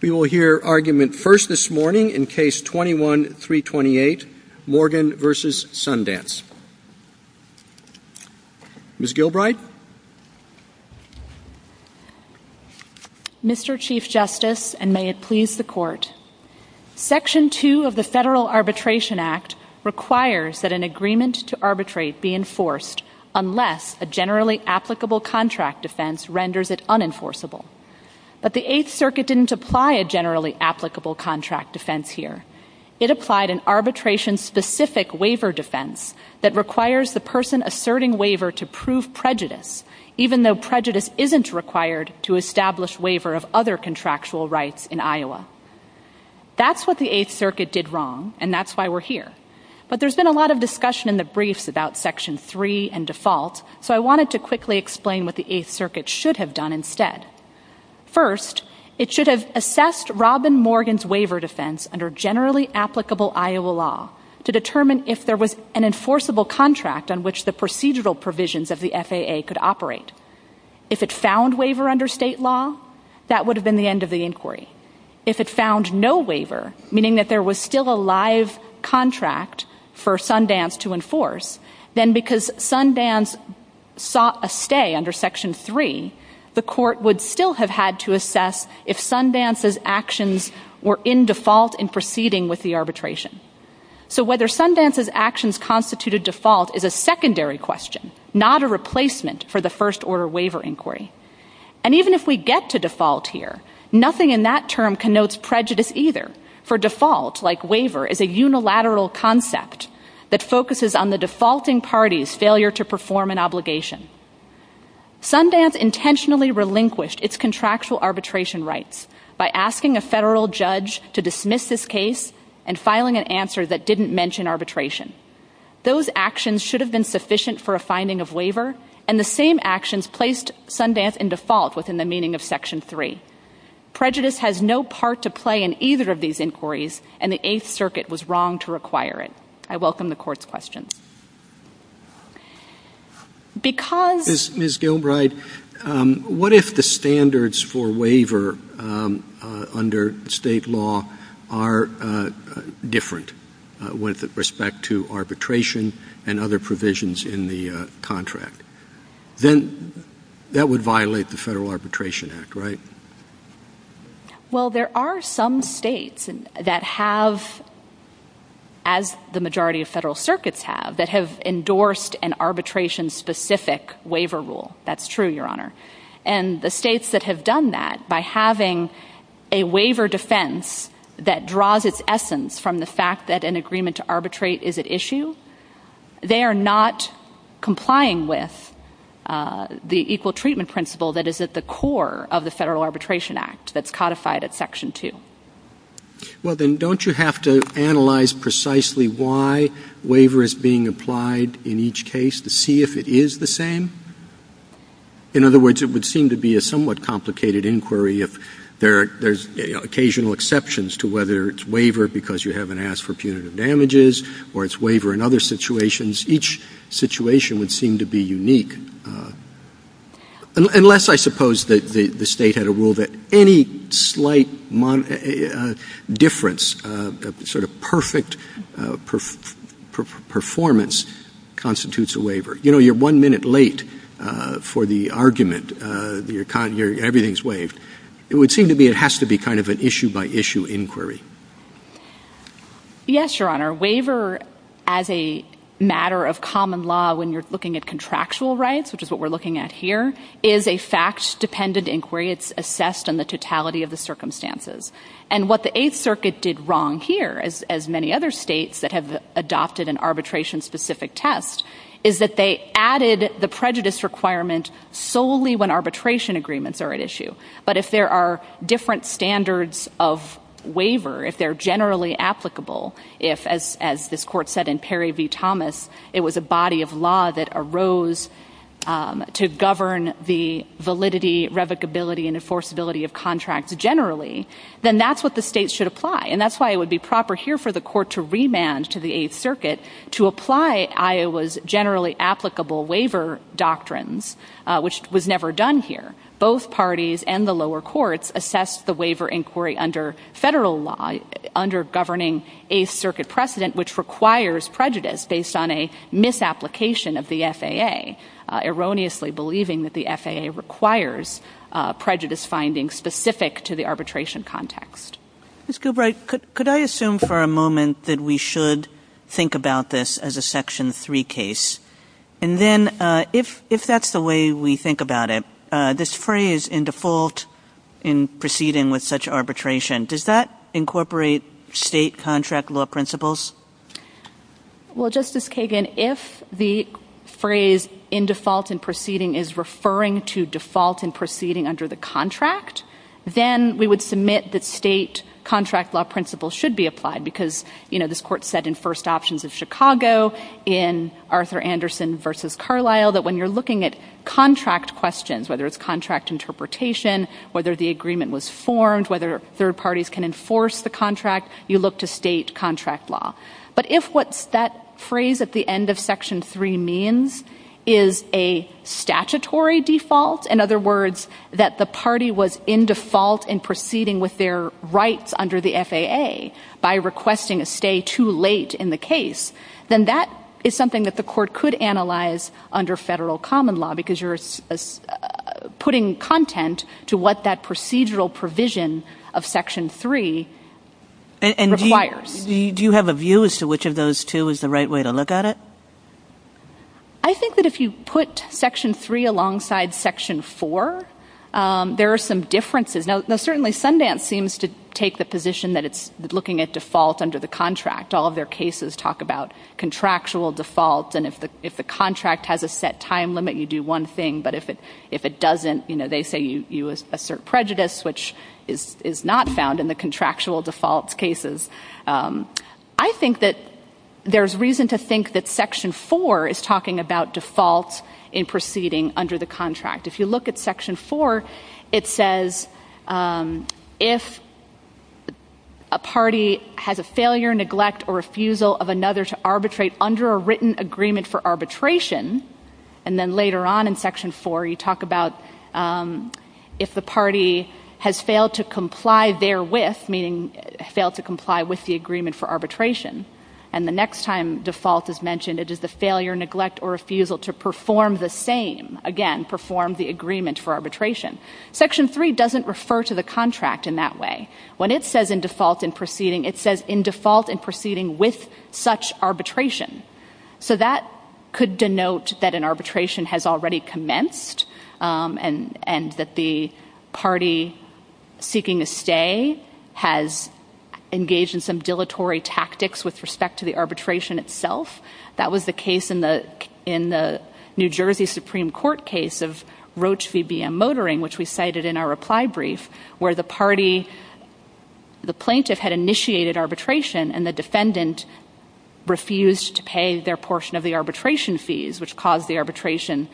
We will hear argument first this morning in Case 21-328, Morgan v. Sundance. Ms. Gilbride? Mr. Chief Justice, and may it please the Court, Section 2 of the Federal Arbitration Act requires that an agreement to arbitrate be enforced unless a generally applicable contract offense renders it unenforceable. But the Eighth Circuit didn't apply a generally applicable contract defense here. It applied an arbitration-specific waiver defense that requires the person asserting waiver to prove prejudice, even though prejudice isn't required to establish waiver of other contractual rights in Iowa. That's what the Eighth Circuit did wrong, and that's why we're here. But there's been a lot of discussion in the briefs about Section 3 and default, so I wanted to quickly explain what the Eighth Circuit should have done instead. First, it should have assessed Robin Morgan's waiver defense under generally applicable Iowa law to determine if there was an enforceable contract on which the procedural provisions of the FAA could operate. If it found waiver under state law, that would have been the end of the inquiry. If it found no waiver, meaning that there was still a live contract for Sundance to enforce, then because Sundance sought a stay under Section 3, the court would still have had to assess if Sundance's actions were in default in proceeding with the arbitration. So whether Sundance's actions constituted default is a secondary question, not a replacement for the First Order waiver inquiry. And even if we get to default here, nothing in that term connotes prejudice either, for default, like waiver, is a unilateral concept that focuses on the defaulting party's failure to perform an obligation. Sundance intentionally relinquished its contractual arbitration rights by asking a federal judge to dismiss this case and filing an answer that didn't mention arbitration. Those actions should have been sufficient for a finding of waiver, and the same actions placed Sundance in default within the meaning of Section 3. Prejudice has no part to play in either of these inquiries, and the Eighth Circuit was wrong to require it. I welcome the court's question. Because— Ms. Dilbright, what if the standards for waiver under state law are different with respect to arbitration and other provisions in the contract? Then that would violate the Federal Arbitration Act, right? Well, there are some states that have, as the majority of federal circuits have, that have endorsed an arbitration-specific waiver rule. That's true, Your Honor. And the states that have done that by having a waiver defense that draws its essence from the fact that an agreement to arbitrate is at issue, they are not complying with the equal treatment principle that is at the core of the Federal Arbitration Act that's codified at Section 2. Well, then, don't you have to analyze precisely why waiver is being applied in each case to see if it is the same? In other words, it would seem to be a somewhat complicated inquiry if there's occasional exceptions to whether it's waiver because you haven't asked for punitive damages or it's waiver in other situations. Each situation would seem to be unique. Unless, I suppose, the state had a rule that any slight difference, that sort of perfect performance constitutes a waiver. You know, you're one minute late for the argument. Everything's waived. It would seem to be it has to be kind of an issue-by-issue inquiry. Yes, Your Honor. Waiver, as a matter of common law, when you're looking at contractual rights, which is what we're looking at here, is a fact-dependent inquiry. It's assessed on the totality of the circumstances. And what the Eighth Circuit did wrong here, as many other states that have adopted an arbitration-specific test, is that they added the prejudice requirement solely when arbitration agreements are at issue. But if there are different standards of waiver, if they're generally applicable, if, as this Court said in Perry v. Thomas, it was a body of law that arose to govern the validity, revocability, and enforceability of contracts generally, then that's what the state should apply. And that's why it would be proper here for the Court to remand to the Eighth Circuit to apply Iowa's generally applicable waiver doctrines, which was never done here. Both parties and the lower courts assessed the waiver inquiry under federal law, under governing Eighth Circuit precedent, which requires prejudice based on a misapplication of the FAA, erroneously believing that the FAA requires prejudice findings specific to the arbitration context. Ms. Gilbride, could I assume for a moment that we should think about this as a Section 3 case? And then, if that's the way we think about it, this phrase, in default in proceeding with such arbitration, does that incorporate state contract law principles? Well, Justice Kagan, if the phrase, in default in proceeding, is referring to default in proceeding under the contract, then we would submit that state contract law principles should be applied, because this Court said in First Options of Chicago, in Arthur Anderson v. Carlyle, that when you're looking at contract questions, whether it's contract interpretation, whether the agreement was formed, whether third parties can enforce the contract, you look to state contract law. But if what that phrase at the end of Section 3 means is a statutory default, in other words, that the party was in default in proceeding with their rights under the FAA by requesting a stay too late in the case, then that is something that the Court could analyze under federal common law, because you're putting content to what that procedural provision of Section 3 requires. And do you have a view as to which of those two is the right way to look at it? I think that if you put Section 3 alongside Section 4, there are some differences. Now, certainly, Sundance seems to take the position that it's looking at default under the contract. All of their cases talk about contractual defaults, and if the contract has a set time limit, you do one thing, but if it doesn't, they say you assert prejudice, which is not found in the contractual default cases. I think that there's reason to think that Section 4 is talking about defaults in proceeding under the contract. If you look at Section 4, it says if a party has a failure, neglect, or refusal of another to arbitrate under a written agreement for arbitration, and then later on in Section 4, you talk about if the party has failed to comply therewith, meaning failed to comply with the agreement for arbitration, and the next time default is mentioned, it is the failure, neglect, or refusal to perform the same, again, perform the agreement for arbitration. Section 3 doesn't refer to the contract in that way. When it says in default in proceeding, it says in default in proceeding with such arbitration. So that could denote that an arbitration has already commenced and that the party seeking a stay has engaged in some dilatory tactics with respect to the arbitration itself. That was the case in the New Jersey Supreme Court case of Roach v. BM Motoring, which we cited in our reply brief, where the plaintiff had initiated arbitration and the defendant refused to pay their portion of the arbitration fees, which caused the arbitration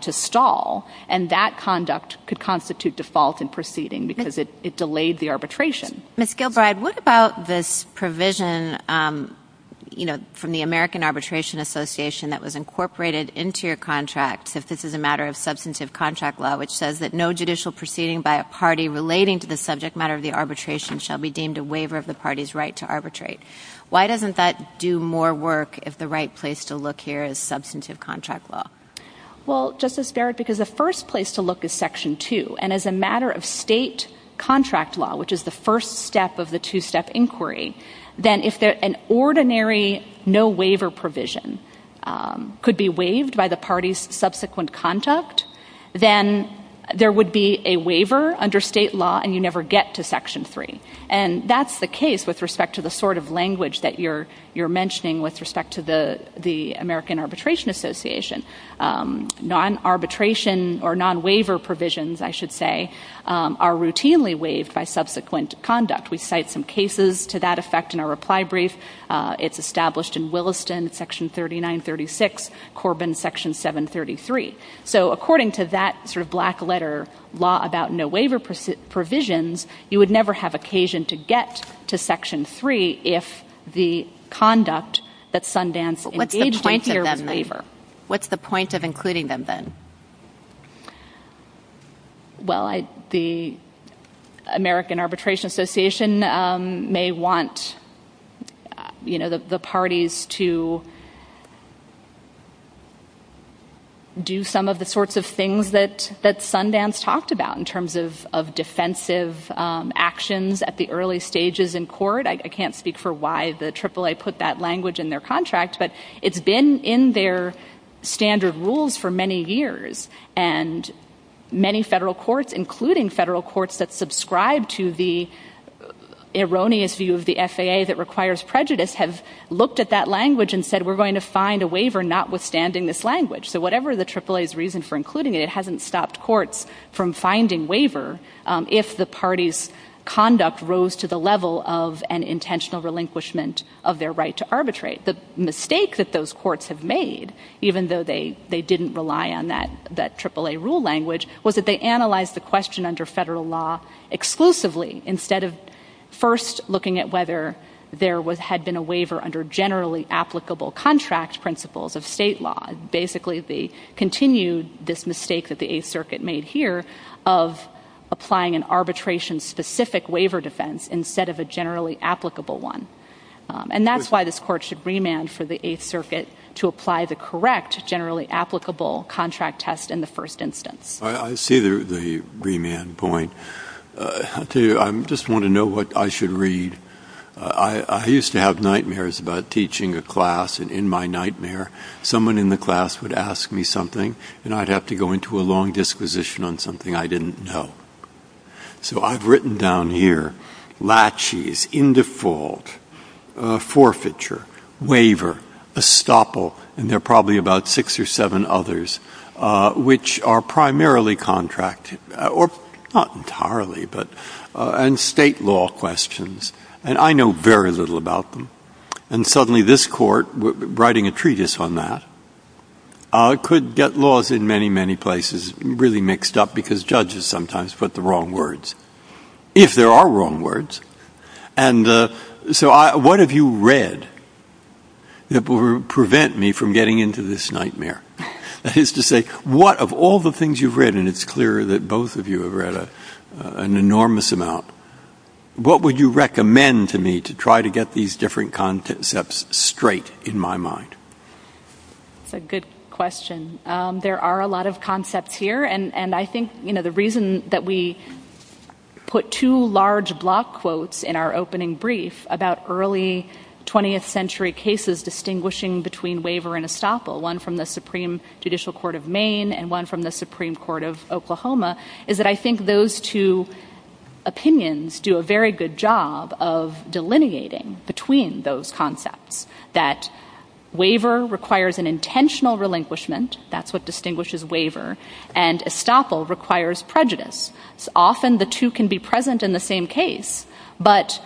to stall, and that conduct could constitute default in proceeding because it delayed the arbitration. Ms. Gilbride, what about this provision from the American Arbitration Association that was incorporated into your contract, that this is a matter of substantive contract law, which says that no judicial proceeding by a party relating to the subject matter of the arbitration shall be deemed a waiver of the party's right to arbitrate. Why doesn't that do more work if the right place to look here is substantive contract law? Well, Justice Barrett, because the first place to look is Section 2, and as a matter of state contract law, which is the first step of the two-step inquiry, then if an ordinary no waiver provision could be waived by the party's subsequent contact, then there would be a waiver under state law and you never get to Section 3. And that's the case with respect to the sort of language that you're mentioning with respect to the American Arbitration Association. Non-arbitration or non-waiver provisions, I should say, are routinely waived by subsequent conduct. We cite some cases to that effect in our reply brief. It's established in Williston, Section 3936, Corbin, Section 733. So according to that sort of black letter law about no waiver provisions, you would never have occasion to get to Section 3 if the conduct that Sundance engages in What's the point of including them then? Well, the American Arbitration Association may want the parties to do some of the sorts of things that Sundance talked about in terms of defensive actions at the early stages in court. I can't speak for why the AAA put that language in their contracts, but it's been in their standard rules for many years. And many federal courts, including federal courts that subscribe to the erroneous view of the FAA that requires prejudice, have looked at that language and said, we're going to find a waiver notwithstanding this language. So whatever the AAA's reason for including it, it hasn't stopped courts from finding waiver if the party's conduct rose to the level of an intentional relinquishment of their right to arbitrate. The mistake that those courts have made, even though they didn't rely on that AAA rule language, was that they analyzed the question under federal law exclusively instead of first looking at whether there had been a waiver under generally applicable contract principles of state law. Basically, they continued this mistake that the Eighth Circuit made here of applying an arbitration-specific waiver defense instead of a generally applicable one. And that's why this court should remand for the Eighth Circuit to apply the correct generally applicable contract test in the first instance. I see the remand point. I'll tell you, I just want to know what I should read. I used to have nightmares about teaching a class, and in my nightmare, someone in the class would ask me something, and I'd have to go into a long disquisition on something I didn't know. So I've written down here laches, in default, forfeiture, waiver, estoppel, and there are probably about six or seven others which are primarily contract, or not entirely, but, and state law questions. And I know very little about them. And suddenly this court, writing a treatise on that, could get laws in many, many places really mixed up because judges sometimes put the wrong words, if there are wrong words. And so what have you read that will prevent me from getting into this nightmare? That is to say, what of all the things you've read, and it's clear that both of you have read an enormous amount, what would you recommend to me to try to get these different concepts straight in my mind? That's a good question. There are a lot of concepts here, and I think, you know, the reason that we put two large block quotes in our opening brief about early 20th century cases distinguishing between waiver and estoppel, one from the Supreme Judicial Court of Maine, and one from the Supreme Court of Oklahoma, is that I think those two opinions do a very good job of delineating between those concepts, that waiver requires an intentional relinquishment, that's what distinguishes waiver, and estoppel requires prejudice. Often the two can be present in the same case, but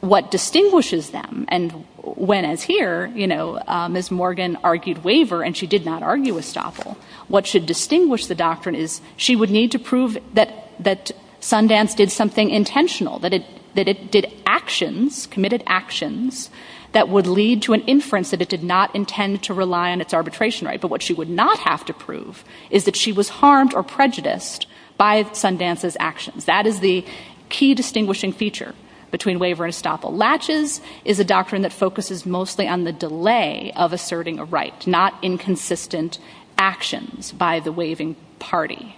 what distinguishes them, and when as here, you know, Ms. Morgan argued waiver and she did not argue estoppel, what should distinguish the doctrine is she would need to prove that Sundance did something intentional, that it did actions, committed actions, that would lead to an inference that it did not intend to rely on its arbitration right, but what she would not have to prove is that she was harmed or prejudiced by Sundance's actions. That is the key distinguishing feature between waiver and estoppel. Latches is a doctrine that focuses mostly on the delay of asserting a right, not inconsistent actions by the waiving party.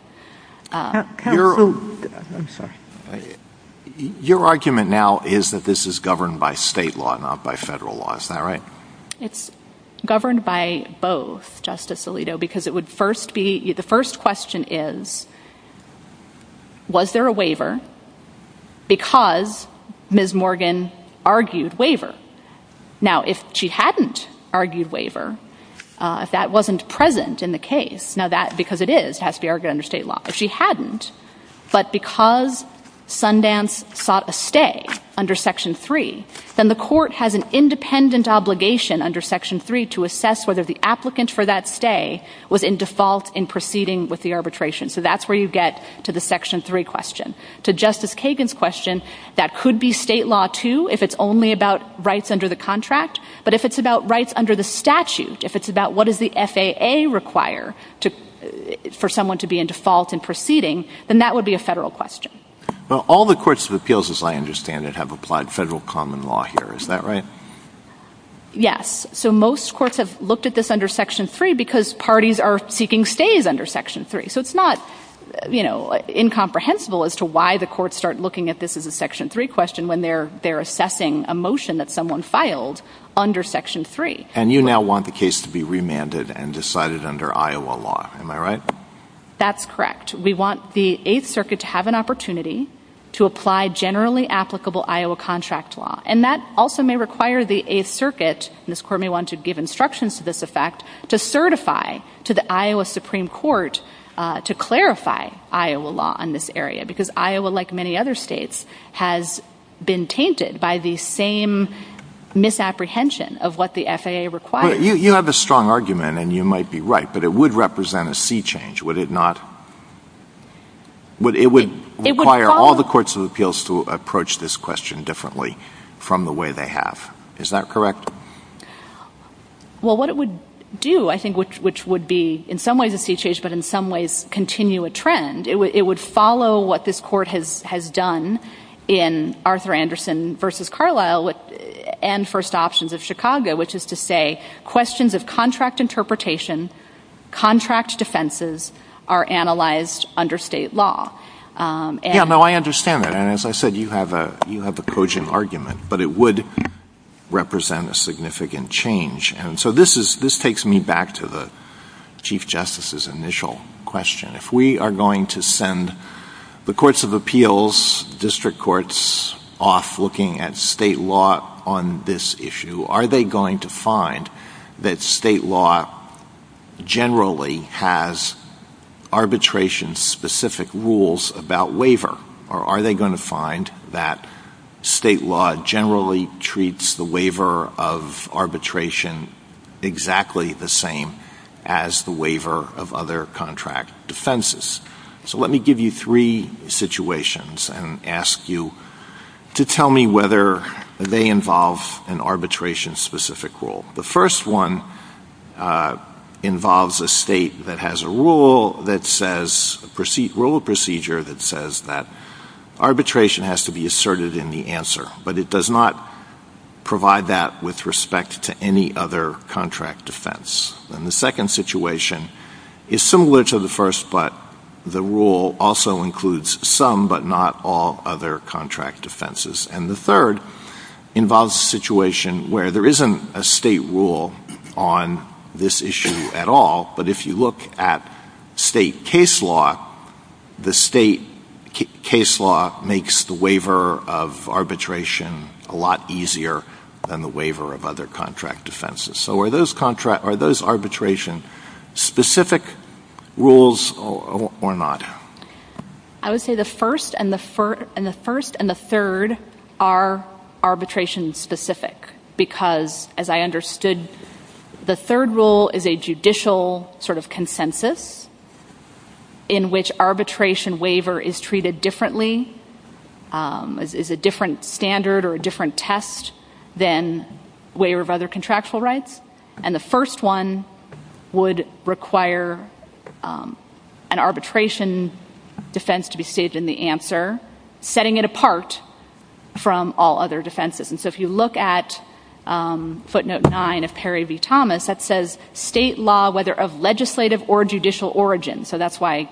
Your argument now is that this is governed by state law, not by federal law, is that right? It's governed by both, Justice Alito, because it would first be, the first question is, was there a waiver because Ms. Morgan argued waiver? Now if she hadn't argued waiver, that wasn't present in the case. Now that, because it is, has to be argued under state law. If she hadn't, but because Sundance sought a stay under Section 3, then the court has an independent obligation under Section 3 to assess whether the applicant for that stay was in default in proceeding with the arbitration. So that's where you get to the Section 3 question. To Justice Kagan's question, that could be state law too if it's only about rights under the contract, but if it's about rights under the statute, if it's about what does the FAA require for someone to be in default in proceeding, then that would be a federal question. Well, all the courts of appeals, as I understand it, have applied federal common law here, is that right? Yes. So most courts have looked at this under Section 3 because parties are seeking stays under Section 3. So it's not, you know, incomprehensible as to why the courts start looking at this as a Section 3 question when they're assessing a motion that someone filed under Section 3. And you now want the case to be remanded and decided under Iowa law, am I right? That's correct. We want the 8th Circuit to have an opportunity to apply generally applicable Iowa contract law. And that also may require the 8th Circuit, and this court may want to give instructions to this effect, to certify to the Iowa Supreme Court to clarify Iowa law in this area, because Iowa, like many other states, has been tainted by the same misapprehension of what the FAA requires. You have a strong argument, and you might be right, but it would represent a sea change, would it not? It would require all the courts of appeals to approach this question differently from the way they have. Is that correct? Well, what it would do, I think, which would be in some ways a sea change, but in some ways continue a trend, it would follow what this court has done in Arthur Anderson v. Carlisle and First Options of Chicago, which is to say questions of contract interpretation, contract defenses, are analyzed under state law. Yeah, no, I understand that. And as I said, you have a cogent argument, but it would represent a significant change. And so this takes me back to the Chief Justice's initial question. If we are going to send the courts of appeals, district courts, off looking at state law on this issue, are they going to find that state law generally has arbitration-specific rules about waiver, or are they going to find that state law generally treats the waiver of arbitration exactly the same as the waiver of other contract defenses? So let me give you three situations and ask you to tell me whether they involve an arbitration-specific rule. The first one involves a state that has a rule, a procedure that says that arbitration has to be asserted in the answer, but it does not provide that with respect to any other contract defense. And the second situation is similar to the first, but the rule also includes some but not all other contract defenses. And the third involves a situation where there isn't a state rule on this issue at all, but if you look at state case law, the state case law makes the waiver of arbitration a lot easier than the waiver of other contract defenses. So are those arbitration-specific rules or not? I would say the first and the third are arbitration-specific because, as I understood, the third rule is a judicial sort of consensus in which arbitration waiver is treated differently, is a different standard or a different test than waiver of other contractual rights, and the first one would require an arbitration defense to be stated in the answer, setting it apart from all other defenses. And so if you look at footnote 9 of Perry v. Thomas, that says state law, whether of legislative or judicial origin, so that's why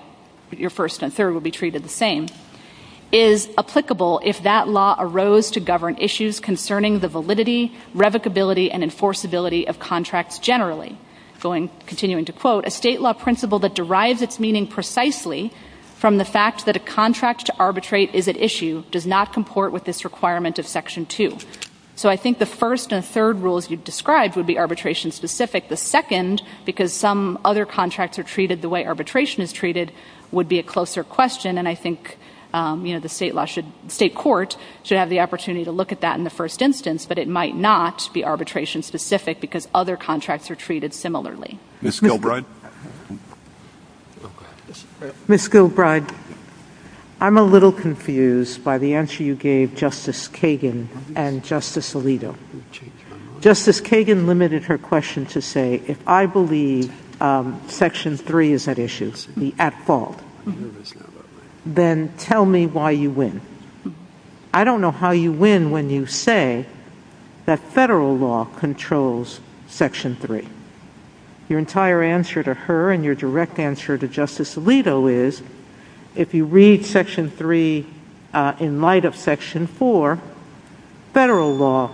your first and third will be treated the same, is applicable if that law arose to govern issues concerning the validity, revocability, and enforceability of contracts generally. Continuing to quote, a state law principle that derives its meaning precisely from the fact that a contract to arbitrate is at issue does not comport with this requirement of Section 2. So I think the first and third rules you've described would be arbitration-specific. The second, because some other contracts are treated the way arbitration is treated, would be a closer question, and I think the state court should have the opportunity to look at that in the first instance, but it might not be arbitration-specific because other contracts are treated similarly. Ms. Gilbride? Ms. Gilbride, I'm a little confused by the answer you gave Justice Kagan and Justice Alito. Justice Kagan limited her question to say, if I believe Section 3 is at issue, the at fault, then tell me why you win. I don't know how you win when you say that federal law controls Section 3. Your entire answer to her and your direct answer to Justice Alito is, if you read Section 3 in light of Section 4, federal law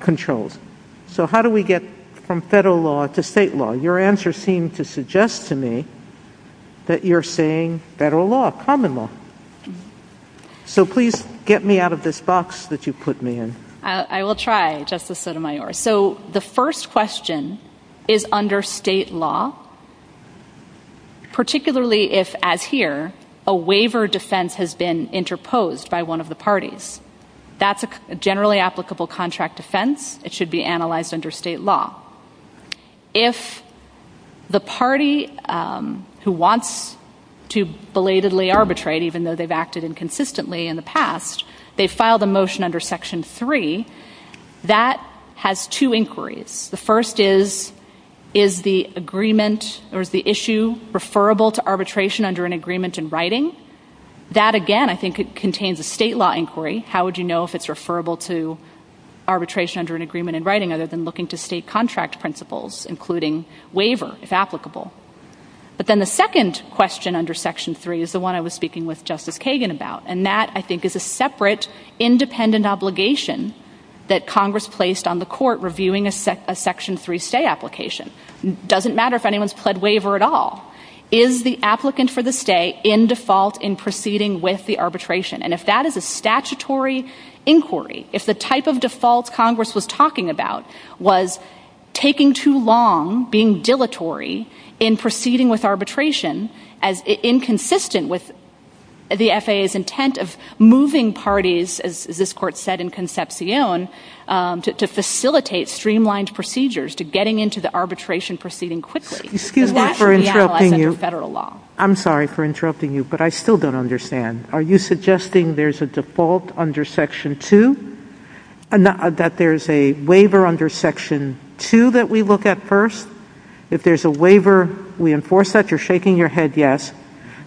controls. So how do we get from federal law to state law? Your answer seemed to suggest to me that you're saying federal law, common law. So please get me out of this box that you put me in. I will try, Justice Sotomayor. So the first question is under state law, particularly if, as here, a waiver defense has been interposed by one of the parties. That's a generally applicable contract defense. It should be analyzed under state law. If the party who wants to belatedly arbitrate, even though they've acted inconsistently in the past, they file the motion under Section 3, that has two inquiries. The first is, is the agreement or the issue referable to arbitration under an agreement in writing? That, again, I think contains a state law inquiry. How would you know if it's referable to arbitration under an agreement in writing other than looking to state contract principles, including waiver, if applicable? But then the second question under Section 3 is the one I was speaking with Justice Kagan about, and that, I think, is a separate independent obligation that Congress placed on the court reviewing a Section 3 stay application. It doesn't matter if anyone's pled waiver at all. Is the applicant for the stay in default in proceeding with the arbitration? And if that is a statutory inquiry, if the type of default Congress was talking about was taking too long, being dilatory in proceeding with arbitration, inconsistent with the FAA's intent of moving parties, as this court said in Concepcion, to facilitate streamlined procedures to getting into the arbitration proceeding quickly, that should be analyzed under federal law. I'm sorry for interrupting you, but I still don't understand. Are you suggesting there's a default under Section 2, that there's a waiver under Section 2 that we look at first? If there's a waiver, we enforce that? You're shaking your head yes.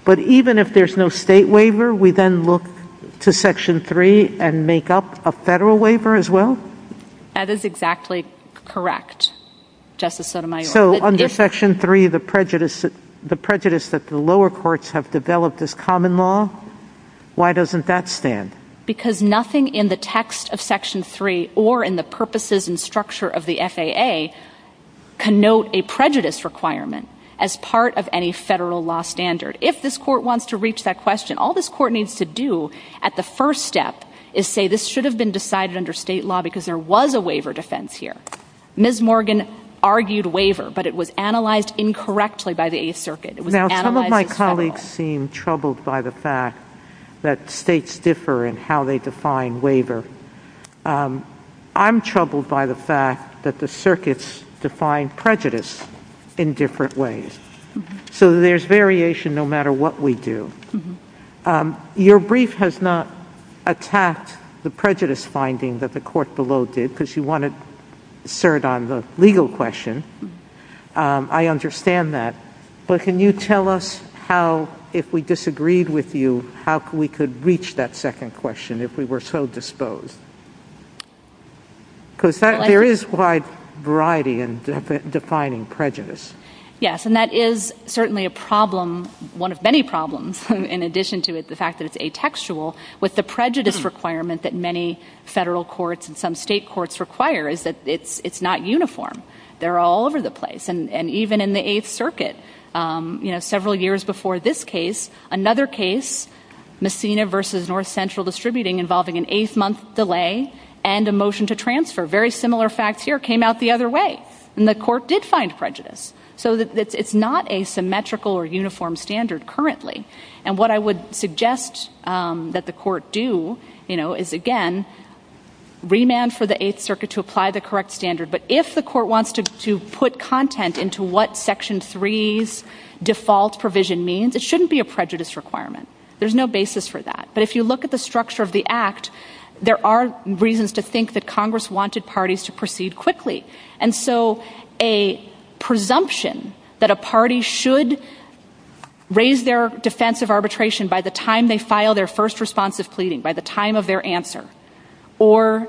But even if there's no state waiver, we then look to Section 3 and make up a federal waiver as well? That is exactly correct, Justice Sotomayor. So under Section 3, the prejudice that the lower courts have developed as common law, why doesn't that stand? Because nothing in the text of Section 3 or in the purposes and structure of the FAA can note a prejudice requirement as part of any federal law standard. If this court wants to reach that question, all this court needs to do at the first step is say this should have been decided under state law because there was a waiver defense here. Ms. Morgan argued waiver, but it was analyzed incorrectly by the Eighth Circuit. Now, some of my colleagues seem troubled by the fact that states differ in how they define waiver. I'm troubled by the fact that the circuits define prejudice in different ways. So there's variation no matter what we do. Your brief has not attacked the prejudice finding that the court below did because you want to assert on the legal question. I understand that. But can you tell us how, if we disagreed with you, how we could reach that second question if we were so disposed? Because there is a wide variety in defining prejudice. Yes, and that is certainly a problem, one of many problems, in addition to the fact that it's atextual, with the prejudice requirement that many federal courts and some state courts require is that it's not uniform. They're all over the place, and even in the Eighth Circuit, several years before this case, another case, Messina v. North Central Distributing involving an eight-month delay and a motion to transfer, very similar facts here, came out the other way, and the court did find prejudice. So it's not a symmetrical or uniform standard currently. And what I would suggest that the court do is, again, remand for the Eighth Circuit to apply the correct standard. But if the court wants to put content into what Section 3's default provision means, it shouldn't be a prejudice requirement. There's no basis for that. But if you look at the structure of the Act, there are reasons to think that Congress wanted parties to proceed quickly. And so a presumption that a party should raise their defense of arbitration by the time they file their first responsive pleading, by the time of their answer, or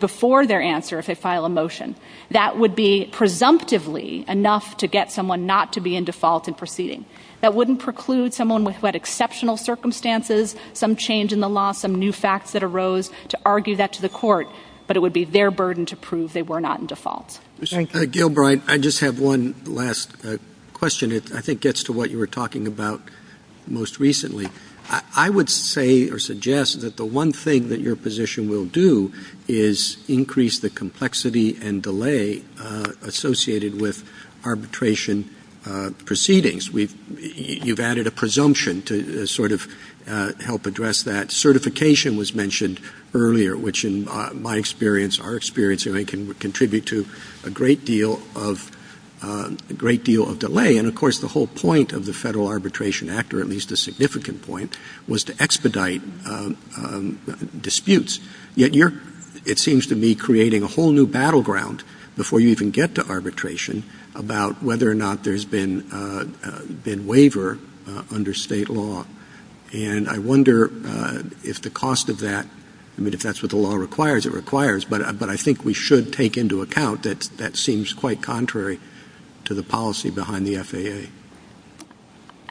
before their answer if they file a motion, that would be presumptively enough to get someone not to be in default in proceeding. That wouldn't preclude someone with, what, exceptional circumstances, some change in the law, some new facts that arose, to argue that to the court, but it would be their burden to prove they were not in default. Gilbride, I just have one last question. It, I think, gets to what you were talking about most recently. I would say or suggest that the one thing that your position will do is increase the complexity and delay associated with arbitration proceedings. You've added a presumption to sort of help address that. Certification was mentioned earlier, which in my experience, our experience, I think can contribute to a great deal of delay. And, of course, the whole point of the Federal Arbitration Act, or at least the significant point, was to expedite disputes. Yet you're, it seems to me, creating a whole new battleground before you even get to arbitration about whether or not there's been waiver under state law. And I wonder if the cost of that, I mean, if that's what the law requires, it requires, but I think we should take into account that that seems quite contrary to the policy behind the FAA.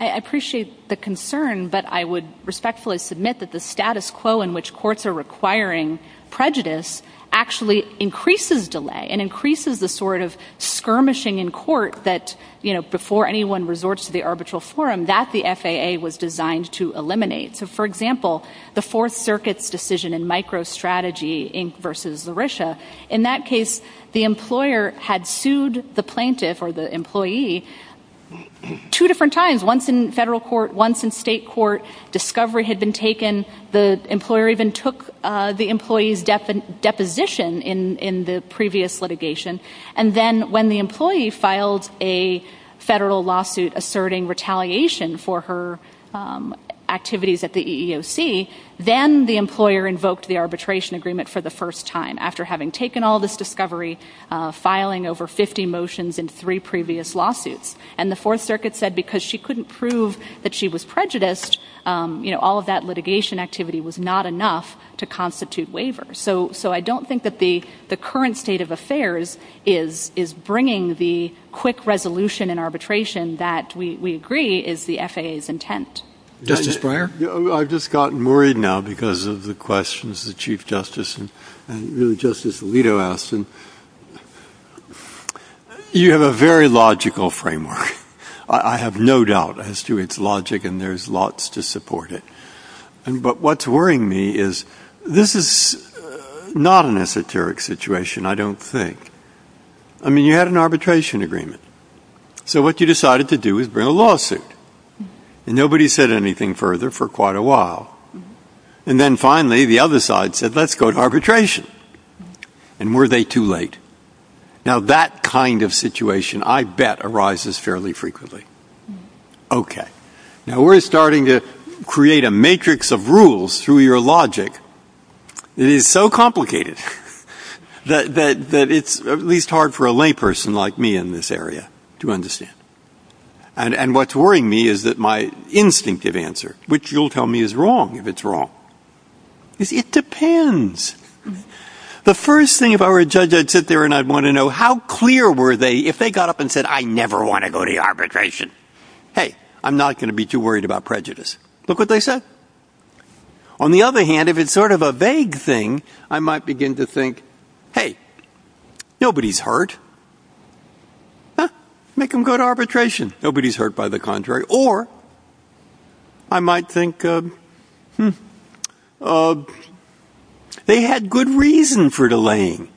I appreciate the concern, but I would respectfully submit that the status quo in which courts are requiring prejudice actually increases delay and increases the sort of skirmishing in court that, you know, before anyone resorts to the arbitral forum, that the FAA was designed to eliminate. So, for example, the Fourth Circuit's decision in MicroStrategy v. Larisha, in that case, the employer had sued the plaintiff or the employee two different times, once in federal court, once in state court. Discovery had been taken. The employer even took the employee's deposition in the previous litigation. And then when the employee filed a federal lawsuit asserting retaliation for her activities at the EEOC, then the employer invoked the arbitration agreement for the first time, after having taken all this discovery, filing over 50 motions in three previous lawsuits. And the Fourth Circuit said because she couldn't prove that she was prejudiced, you know, all of that litigation activity was not enough to constitute waiver. So I don't think that the current state of affairs is bringing the quick resolution and arbitration that we agree is the FAA's intent. Justice Breyer? I've just gotten worried now because of the questions that Chief Justice and Justice Alito asked. You have a very logical framework. I have no doubt as to its logic, and there's lots to support it. But what's worrying me is this is not an esoteric situation, I don't think. I mean, you had an arbitration agreement. So what you decided to do is bring a lawsuit. And nobody said anything further for quite a while. And then finally the other side said let's go to arbitration. And were they too late? Now that kind of situation, I bet, arises fairly frequently. Okay. Now we're starting to create a matrix of rules through your logic. It is so complicated that it's at least hard for a layperson like me in this area to understand. And what's worrying me is that my instinctive answer, which you'll tell me is wrong if it's wrong, is it depends. The first thing, if I were a judge, I'd sit there and I'd want to know how clear were they if they got up and said I never want to go to arbitration. Hey, I'm not going to be too worried about prejudice. Look what they said. On the other hand, if it's sort of a vague thing, I might begin to think, hey, nobody's hurt. Make them go to arbitration. Nobody's hurt, by the contrary. Or I might think they had good reason for delaying.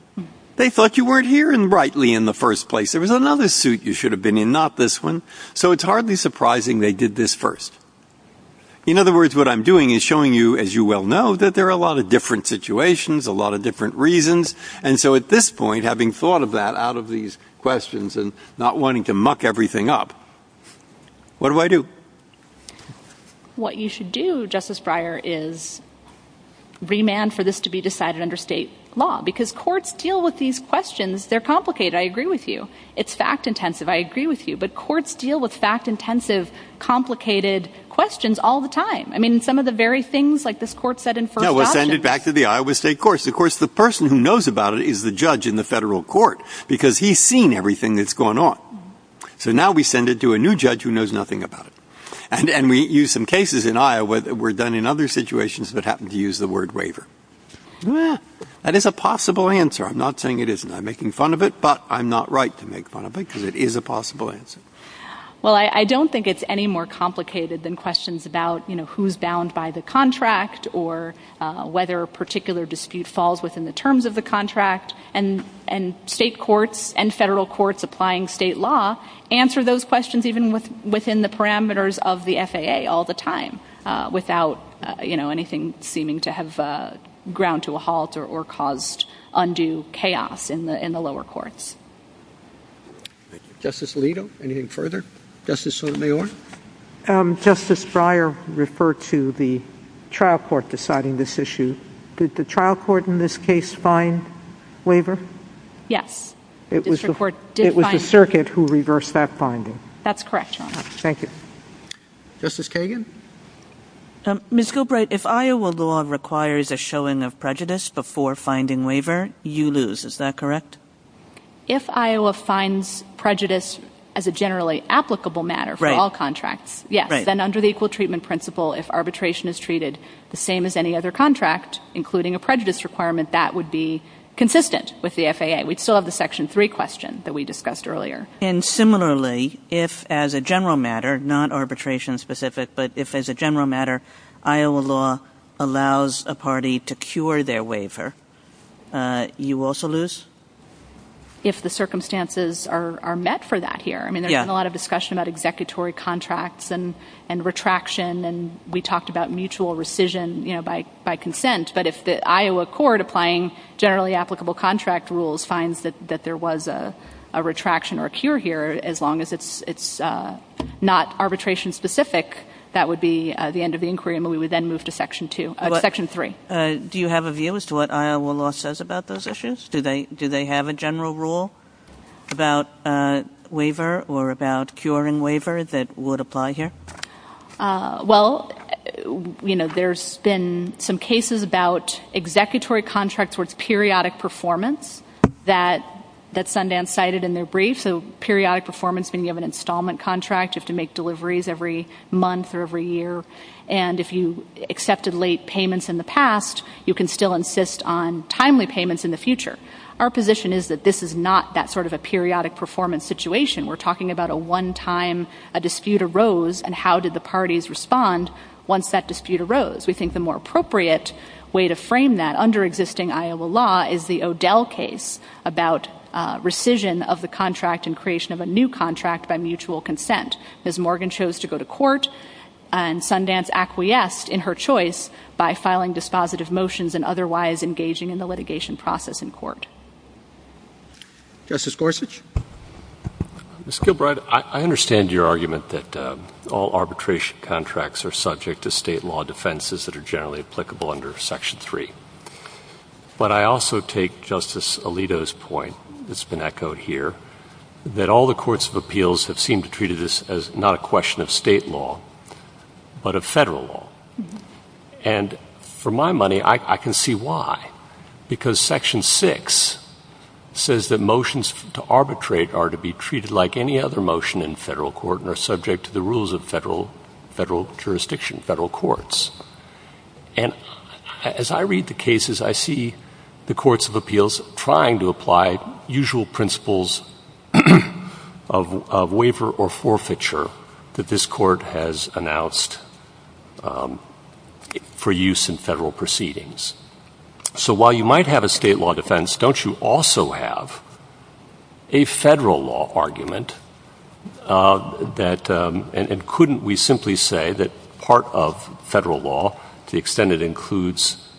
They thought you weren't hearing rightly in the first place. There was another suit you should have been in, not this one. So it's hardly surprising they did this first. In other words, what I'm doing is showing you, as you well know, that there are a lot of different situations, a lot of different reasons, and so at this point, having thought of that out of these questions and not wanting to muck everything up, what do I do? What you should do, Justice Breyer, is remand for this to be decided under state law because courts deal with these questions. They're complicated. I agree with you. It's fact-intensive. I agree with you. But courts deal with fact-intensive, complicated questions all the time. I mean, some of the very things, like this court said in first session. No, we'll send it back to the Iowa State courts. Of course, the person who knows about it is the judge in the federal court because he's seen everything that's going on. So now we send it to a new judge who knows nothing about it. And we use some cases in Iowa that were done in other situations that happen to use the word waiver. That is a possible answer. I'm not saying it isn't. I'm making fun of it, but I'm not right to make fun of it because it is a possible answer. Well, I don't think it's any more complicated than questions about, you know, who's bound by the contract or whether a particular dispute falls within the terms of the contract. And state courts and federal courts applying state law answer those questions even within the parameters of the FAA all the time without, you know, anything seeming to have ground to a halt or caused undue chaos in the lower courts. Justice Alito, anything further? Justice Sotomayor? Justice Breyer referred to the trial court deciding this issue. Did the trial court in this case find waiver? Yes. It was the circuit who reversed that finding. That's correct, Your Honor. Thank you. Justice Kagan? Ms. Gilbride, if Iowa law requires a showing of prejudice before finding waiver, you lose. Is that correct? If Iowa finds prejudice as a generally applicable matter for all contracts, yes. Then under the equal treatment principle, if arbitration is treated the same as any other contract, including a prejudice requirement, that would be consistent with the FAA. We still have the Section 3 question that we discussed earlier. And similarly, if as a general matter, not arbitration specific, but if as a general matter, Iowa law allows a party to cure their waiver, you also lose? If the circumstances are met for that here. I mean, there's been a lot of discussion about executory contracts and retraction, and we talked about mutual rescission, you know, by consent. But if the Iowa court, applying generally applicable contract rules, finds that there was a retraction or a cure here, as long as it's not arbitration specific, that would be the end of the inquiry, and we would then move to Section 3. Do you have a view as to what Iowa law says about those issues? Do they have a general rule about waiver or about curing waiver that would apply here? Well, you know, there's been some cases about executory contracts towards periodic performance that Sundance cited in their brief. So periodic performance when you have an installment contract, you have to make deliveries every month or every year. And if you accepted late payments in the past, you can still insist on timely payments in the future. Our position is that this is not that sort of a periodic performance situation. We're talking about a one-time dispute arose, and how did the parties respond once that dispute arose? We think the more appropriate way to frame that under existing Iowa law is the O'Dell case about rescission of the contract and creation of a new contract by mutual consent. Ms. Morgan chose to go to court, and Sundance acquiesced in her choice by filing dispositive motions and otherwise engaging in the litigation process in court. Justice Gorsuch. Ms. Gilbride, I understand your argument that all arbitration contracts are subject to state law defenses that are generally applicable under Section 3. But I also take Justice Alito's point that's been echoed here that all the courts of appeals have seemed to treat this as not a question of state law but of federal law. And for my money, I can see why. Because Section 6 says that motions to arbitrate are to be treated like any other motion in federal court and are subject to the rules of federal jurisdiction, federal courts. And as I read the cases, I see the courts of appeals trying to apply usual principles of waiver or forfeiture that this court has announced for use in federal proceedings. So while you might have a state law defense, don't you also have a federal law argument and couldn't we simply say that part of federal law, to the extent it includes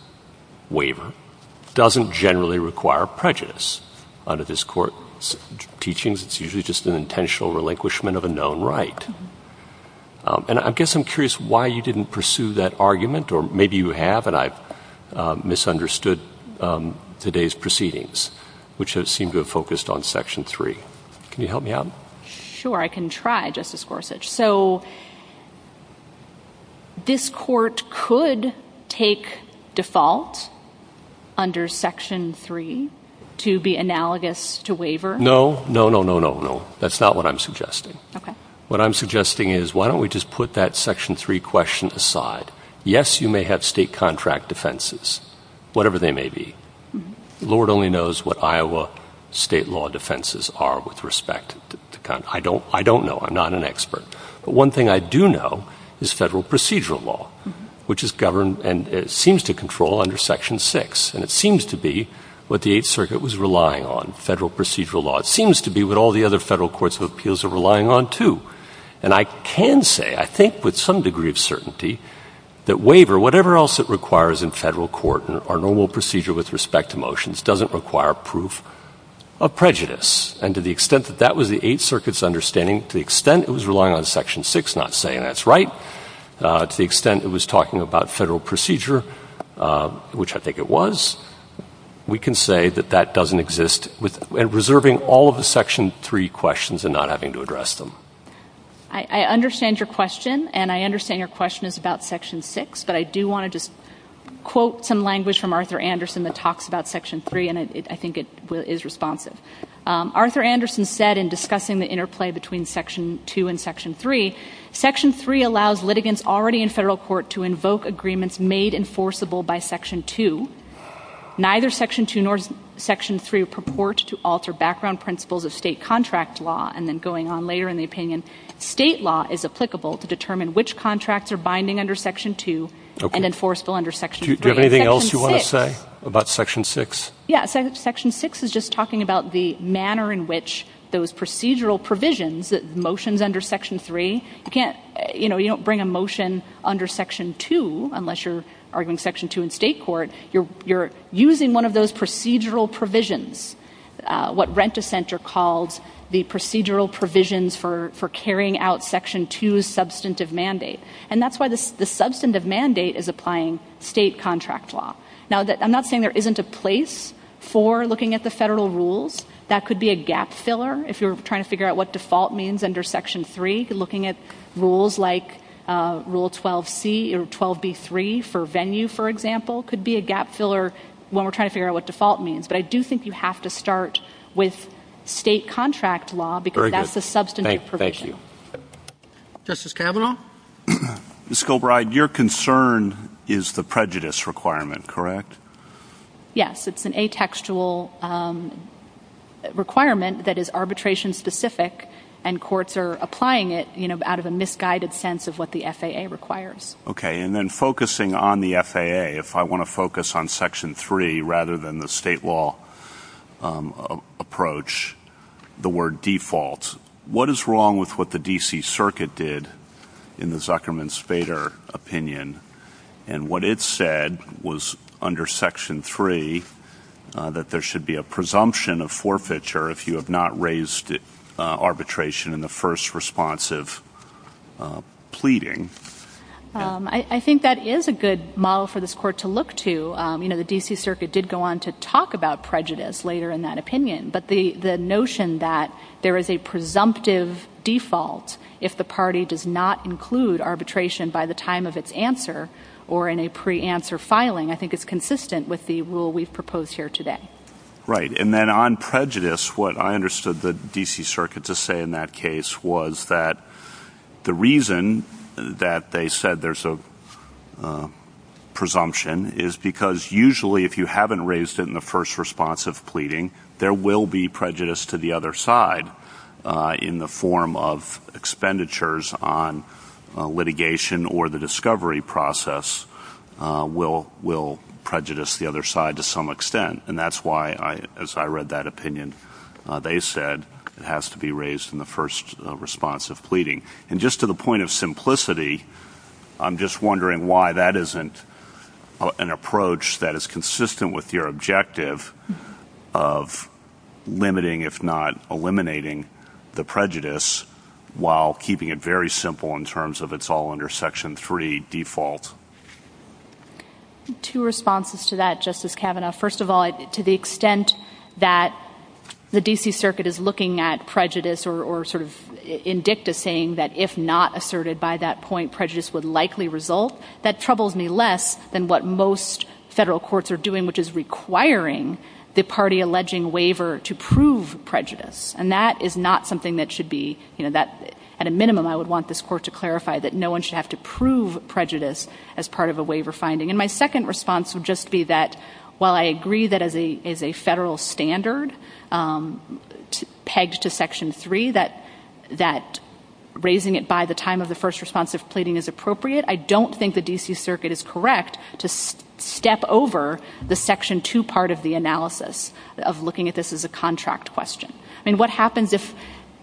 waiver, doesn't generally require prejudice under this court's teachings? It's usually just an intentional relinquishment of a known right. Or maybe you have, and I've misunderstood today's proceedings, which seem to have focused on Section 3. Can you help me out? Sure, I can try, Justice Gorsuch. So this court could take default under Section 3 to be analogous to waiver? No, no, no, no, no, no. That's not what I'm suggesting. What I'm suggesting is why don't we just put that Section 3 question aside? Yes, you may have state contract defenses, whatever they may be. The Lord only knows what Iowa state law defenses are with respect. I don't know. I'm not an expert. But one thing I do know is federal procedural law, which is governed and seems to control under Section 6. And it seems to be what the Eighth Circuit was relying on, federal procedural law. It seems to be what all the other federal courts of appeals are relying on, too. And I can say, I think with some degree of certainty, that waiver, whatever else it requires in federal court, our normal procedure with respect to motions doesn't require proof of prejudice. And to the extent that that was the Eighth Circuit's understanding, to the extent it was relying on Section 6 not saying that's right, to the extent it was talking about federal procedure, which I think it was, we can say that that doesn't exist, and reserving all of the Section 3 questions and not having to address them. I understand your question, and I understand your question is about Section 6, but I do want to just quote some language from Arthur Anderson that talks about Section 3, and I think it is responsive. Arthur Anderson said in discussing the interplay between Section 2 and Section 3, Section 3 allows litigants already in federal court to invoke agreements made enforceable by Section 2. Neither Section 2 nor Section 3 purports to alter background principles of state contract law, and then going on later in the opinion, state law is applicable to determine which contracts are binding under Section 2 and enforceable under Section 3. Do you have anything else you want to say about Section 6? Yeah, Section 6 is just talking about the manner in which those procedural provisions, motions under Section 3, you can't, you know, you don't bring a motion under Section 2 unless you're arguing Section 2 in state court. You're using one of those procedural provisions, what Rent-A-Center calls the procedural provisions for carrying out Section 2's substantive mandate, and that's why the substantive mandate is applying state contract law. Now, I'm not saying there isn't a place for looking at the federal rules. That could be a gap filler if you're trying to figure out what default means under Section 3. Looking at rules like Rule 12c or 12b-3 for venue, for example, could be a gap filler when we're trying to figure out what default means. But I do think you have to start with state contract law because that's the substantive provision. Very good. Thank you. Justice Carabino? Ms. Kilbride, your concern is the prejudice requirement, correct? Yes, it's an atextual requirement that is arbitration-specific, and courts are applying it out of a misguided sense of what the FAA requires. Okay, and then focusing on the FAA, if I want to focus on Section 3 rather than the state law approach, the word default, what is wrong with what the D.C. Circuit did in the Zuckerman-Spader opinion? And what it said was under Section 3 that there should be a presumption of forfeiture if you have not raised arbitration in the first response of pleading. I think that is a good model for this Court to look to. You know, the D.C. Circuit did go on to talk about prejudice later in that opinion, but the notion that there is a presumptive default if the party does not include arbitration by the time of its answer or in a pre-answer filing, I think is consistent with the rule we've proposed here today. Right, and then on prejudice, what I understood the D.C. Circuit to say in that case was that the reason that they said there's a presumption is because usually if you haven't raised it in the first response of pleading, there will be prejudice to the other side in the form of expenditures on litigation or the discovery process will prejudice the other side to some extent, and that's why, as I read that opinion, they said it has to be raised in the first response of pleading. And just to the point of simplicity, I'm just wondering why that isn't an approach that is consistent with your objective of limiting, if not eliminating, the prejudice while keeping it very simple in terms of it's all under Section 3 default. Two responses to that, Justice Kavanaugh. First of all, to the extent that the D.C. Circuit is looking at prejudice or sort of indicting that if not asserted by that point, prejudice would likely result, that troubles me less than what most federal courts are doing, which is requiring the party alleging waiver to prove prejudice. And that is not something that should be, you know, at a minimum, I would want this court to clarify that no one should have to prove prejudice as part of a waiver finding. And my second response would just be that while I agree that as a federal standard pegged to Section 3 that raising it by the time of the first response of pleading is appropriate, I don't think the D.C. Circuit is correct to step over the Section 2 part of the analysis of looking at this as a contract question. I mean, what happens if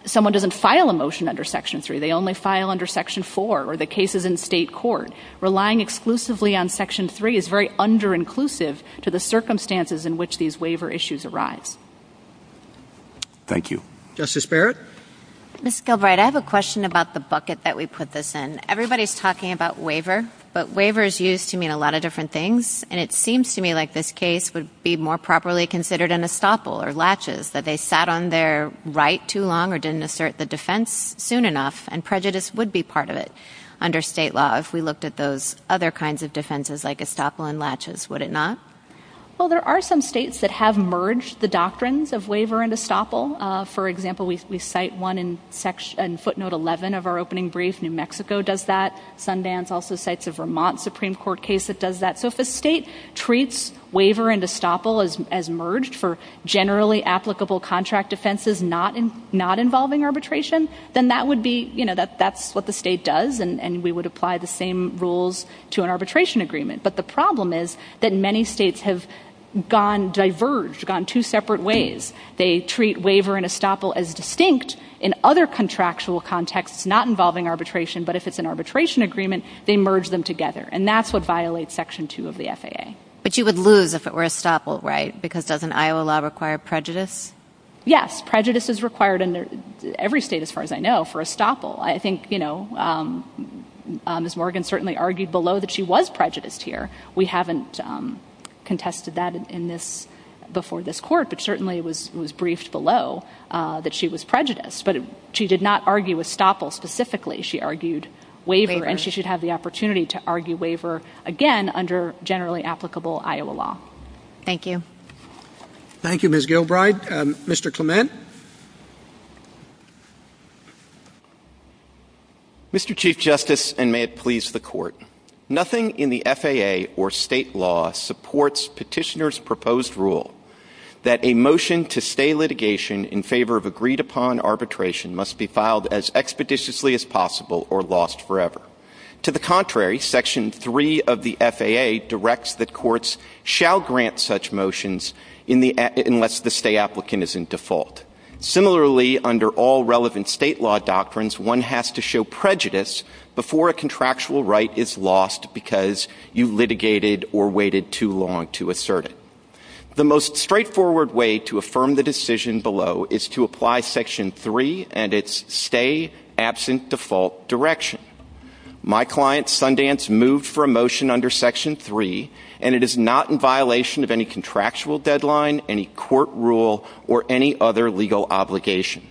someone doesn't file a motion under Section 3? They only file under Section 4 or the cases in state court. Relying exclusively on Section 3 is very under-inclusive to the circumstances in which these waiver issues arise. Thank you. Justice Barrett? Ms. Gilbride, I have a question about the bucket that we put this in. Everybody's talking about waiver, but waiver is used to mean a lot of different things, and it seems to me like this case would be more properly considered an estoppel or latches, that they sat on their right too long or didn't assert the defense soon enough, and prejudice would be part of it under state law if we looked at those other kinds of defenses like estoppel and latches, would it not? Well, there are some states that have merged the doctrines of waiver and estoppel. For example, we cite one in footnote 11 of our opening brief. New Mexico does that. Sundance also cites a Vermont Supreme Court case that does that. So if a state treats waiver and estoppel as merged for generally applicable contract defenses but is not involving arbitration, then that's what the state does, and we would apply the same rules to an arbitration agreement. But the problem is that many states have diverged, gone two separate ways. They treat waiver and estoppel as distinct in other contractual contexts not involving arbitration, but if it's an arbitration agreement, they merge them together, and that's what violates Section 2 of the FAA. But you would lose if it were estoppel, right? Because doesn't Iowa law require prejudice? Yes. Prejudice is required in every state, as far as I know, for estoppel. I think, you know, Ms. Morgan certainly argued below that she was prejudiced here. We haven't contested that before this court, but certainly it was briefed below that she was prejudiced. But she did not argue estoppel specifically. She argued waiver, and she should have the opportunity to argue waiver again under generally applicable Iowa law. Thank you. Thank you, Ms. Gilbride. Mr. Clement? Mr. Chief Justice, and may it please the Court, nothing in the FAA or state law supports petitioners' proposed rule that a motion to stay litigation in favor of agreed-upon arbitration must be filed as expeditiously as possible or lost forever. To the contrary, Section 3 of the FAA directs that courts shall grant such motions unless the stay applicant is in default. Similarly, under all relevant state law doctrines, one has to show prejudice before a contractual right is lost because you litigated or waited too long to assert it. The most straightforward way to affirm the decision below is to apply Section 3 and its stay-absent-default direction. My client Sundance moved for a motion under Section 3, and it is not in violation of any contractual deadline, any court rule, or any other legal obligation.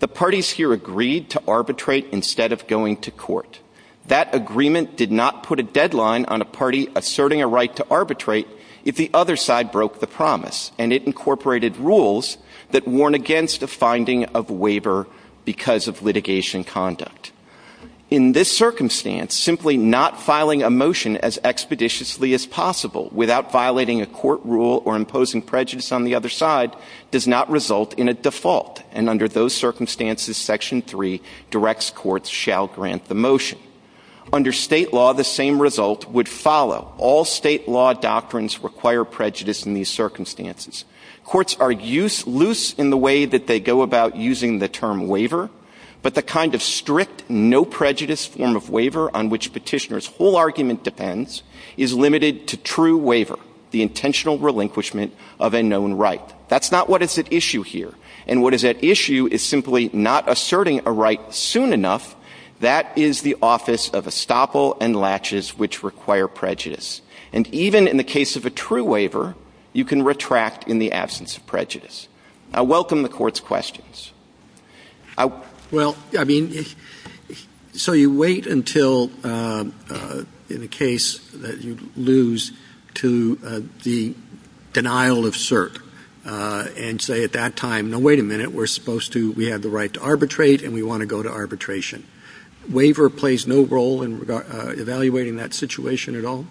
The parties here agreed to arbitrate instead of going to court. That agreement did not put a deadline on a party asserting a right to arbitrate if the other side broke the promise, and it incorporated rules that warn against a finding of a waiver because of litigation conduct. In this circumstance, simply not filing a motion as expeditiously as possible without violating a court rule or imposing prejudice on the other side does not result in a default, and under those circumstances, Section 3 directs courts shall grant the motion. Under state law, the same result would follow. All state law doctrines require prejudice in these circumstances. Courts are loose in the way that they go about using the term waiver, but the kind of strict, no-prejudice form of waiver on which petitioners' whole argument depends is limited to true waiver, the intentional relinquishment of a known right. That's not what is at issue here, and what is at issue is simply not asserting a right soon enough. That is the office of estoppel and latches which require prejudice, and even in the case of a true waiver, you can retract in the absence of prejudice. I welcome the Court's questions. Well, I mean, so you wait until in a case that you lose to the denial of cert and say at that time, no, wait a minute, we're supposed to, we have the right to arbitrate, and we want to go to arbitration. Waiver plays no role in evaluating that situation at all?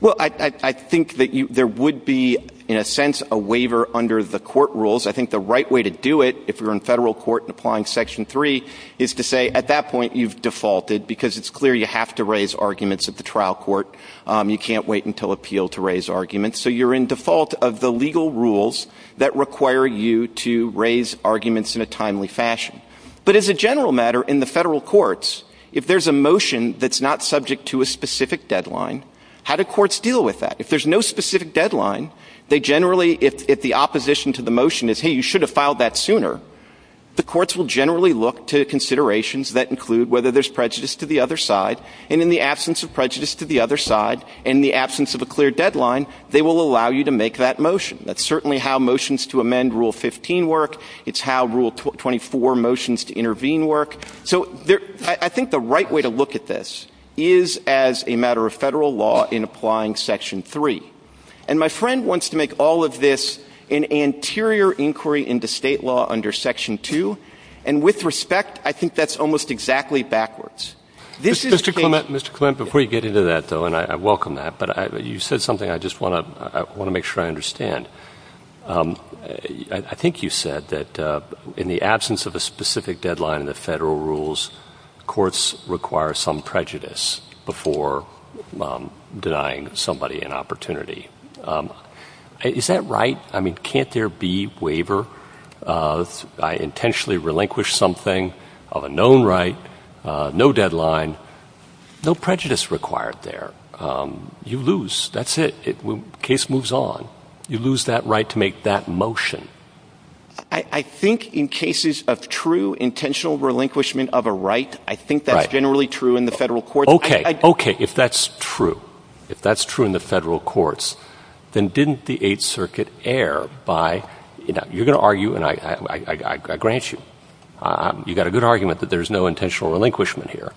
Well, I think that there would be, in a sense, a waiver under the court rules. I think the right way to do it, if you're in federal court applying Section 3, is to say at that point you've defaulted because it's clear you have to raise arguments at the trial court. You can't wait until appeal to raise arguments. So you're in default of the legal rules that require you to raise arguments in a timely fashion. But as a general matter, in the federal courts, if there's a motion that's not subject to a specific deadline, how do courts deal with that? If there's no specific deadline, they generally, if the opposition to the motion is, hey, you should have filed that sooner, the courts will generally look to considerations that include whether there's prejudice to the other side, and in the absence of prejudice to the other side, in the absence of a clear deadline, they will allow you to make that motion. That's certainly how motions to amend Rule 15 work. It's how Rule 24 motions to intervene work. So I think the right way to look at this is as a matter of federal law in applying Section 3. And my friend wants to make all of this an anterior inquiry into state law under Section 2, and with respect, I think that's almost exactly backwards. Mr. Clement, before you get into that, though, and I welcome that, but you said something I just want to make sure I understand. I think you said that in the absence of a specific deadline in the federal rules, courts require some prejudice before denying somebody an opportunity. Is that right? I mean, can't there be waiver? I intentionally relinquish something of a known right, no deadline, no prejudice required there. You lose, that's it, case moves on. You lose that right to make that motion. I think in cases of true intentional relinquishment of a right, I think that's generally true in the federal courts. Okay, okay, if that's true, if that's true in the federal courts, then didn't the Eighth Circuit err by, you know, you're going to argue, and I grant you, you've got a good argument that there's no intentional relinquishment here,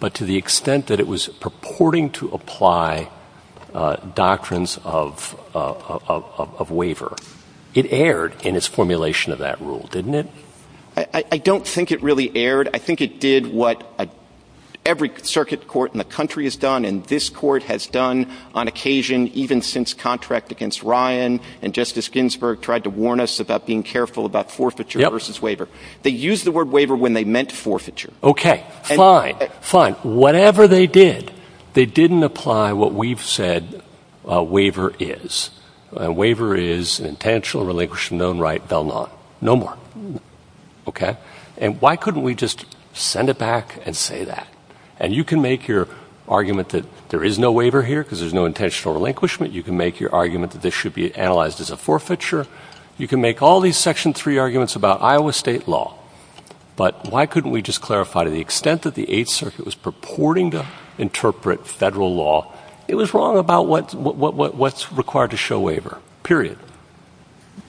but to the extent that it was purporting to apply doctrines of waiver, it erred in its formulation of that rule, didn't it? I don't think it really erred. I think it did what every circuit court in the country has done and this court has done on occasion, even since contract against Ryan and Justice Ginsburg tried to warn us about being careful about forfeiture versus waiver. They used the word waiver when they meant forfeiture. Okay, fine, fine. Whatever they did, they didn't apply what we've said a waiver is. A waiver is an intentional relinquishment of a right, the law. No more. Okay, and why couldn't we just send it back and say that? And you can make your argument that there is no waiver here because there's no intentional relinquishment. You can make your argument that this should be analyzed as a forfeiture. You can make all these Section 3 arguments about Iowa state law, but why couldn't we just clarify to the extent that the Eighth Circuit was purporting to interpret federal law, it was wrong about what's required to show waiver, period.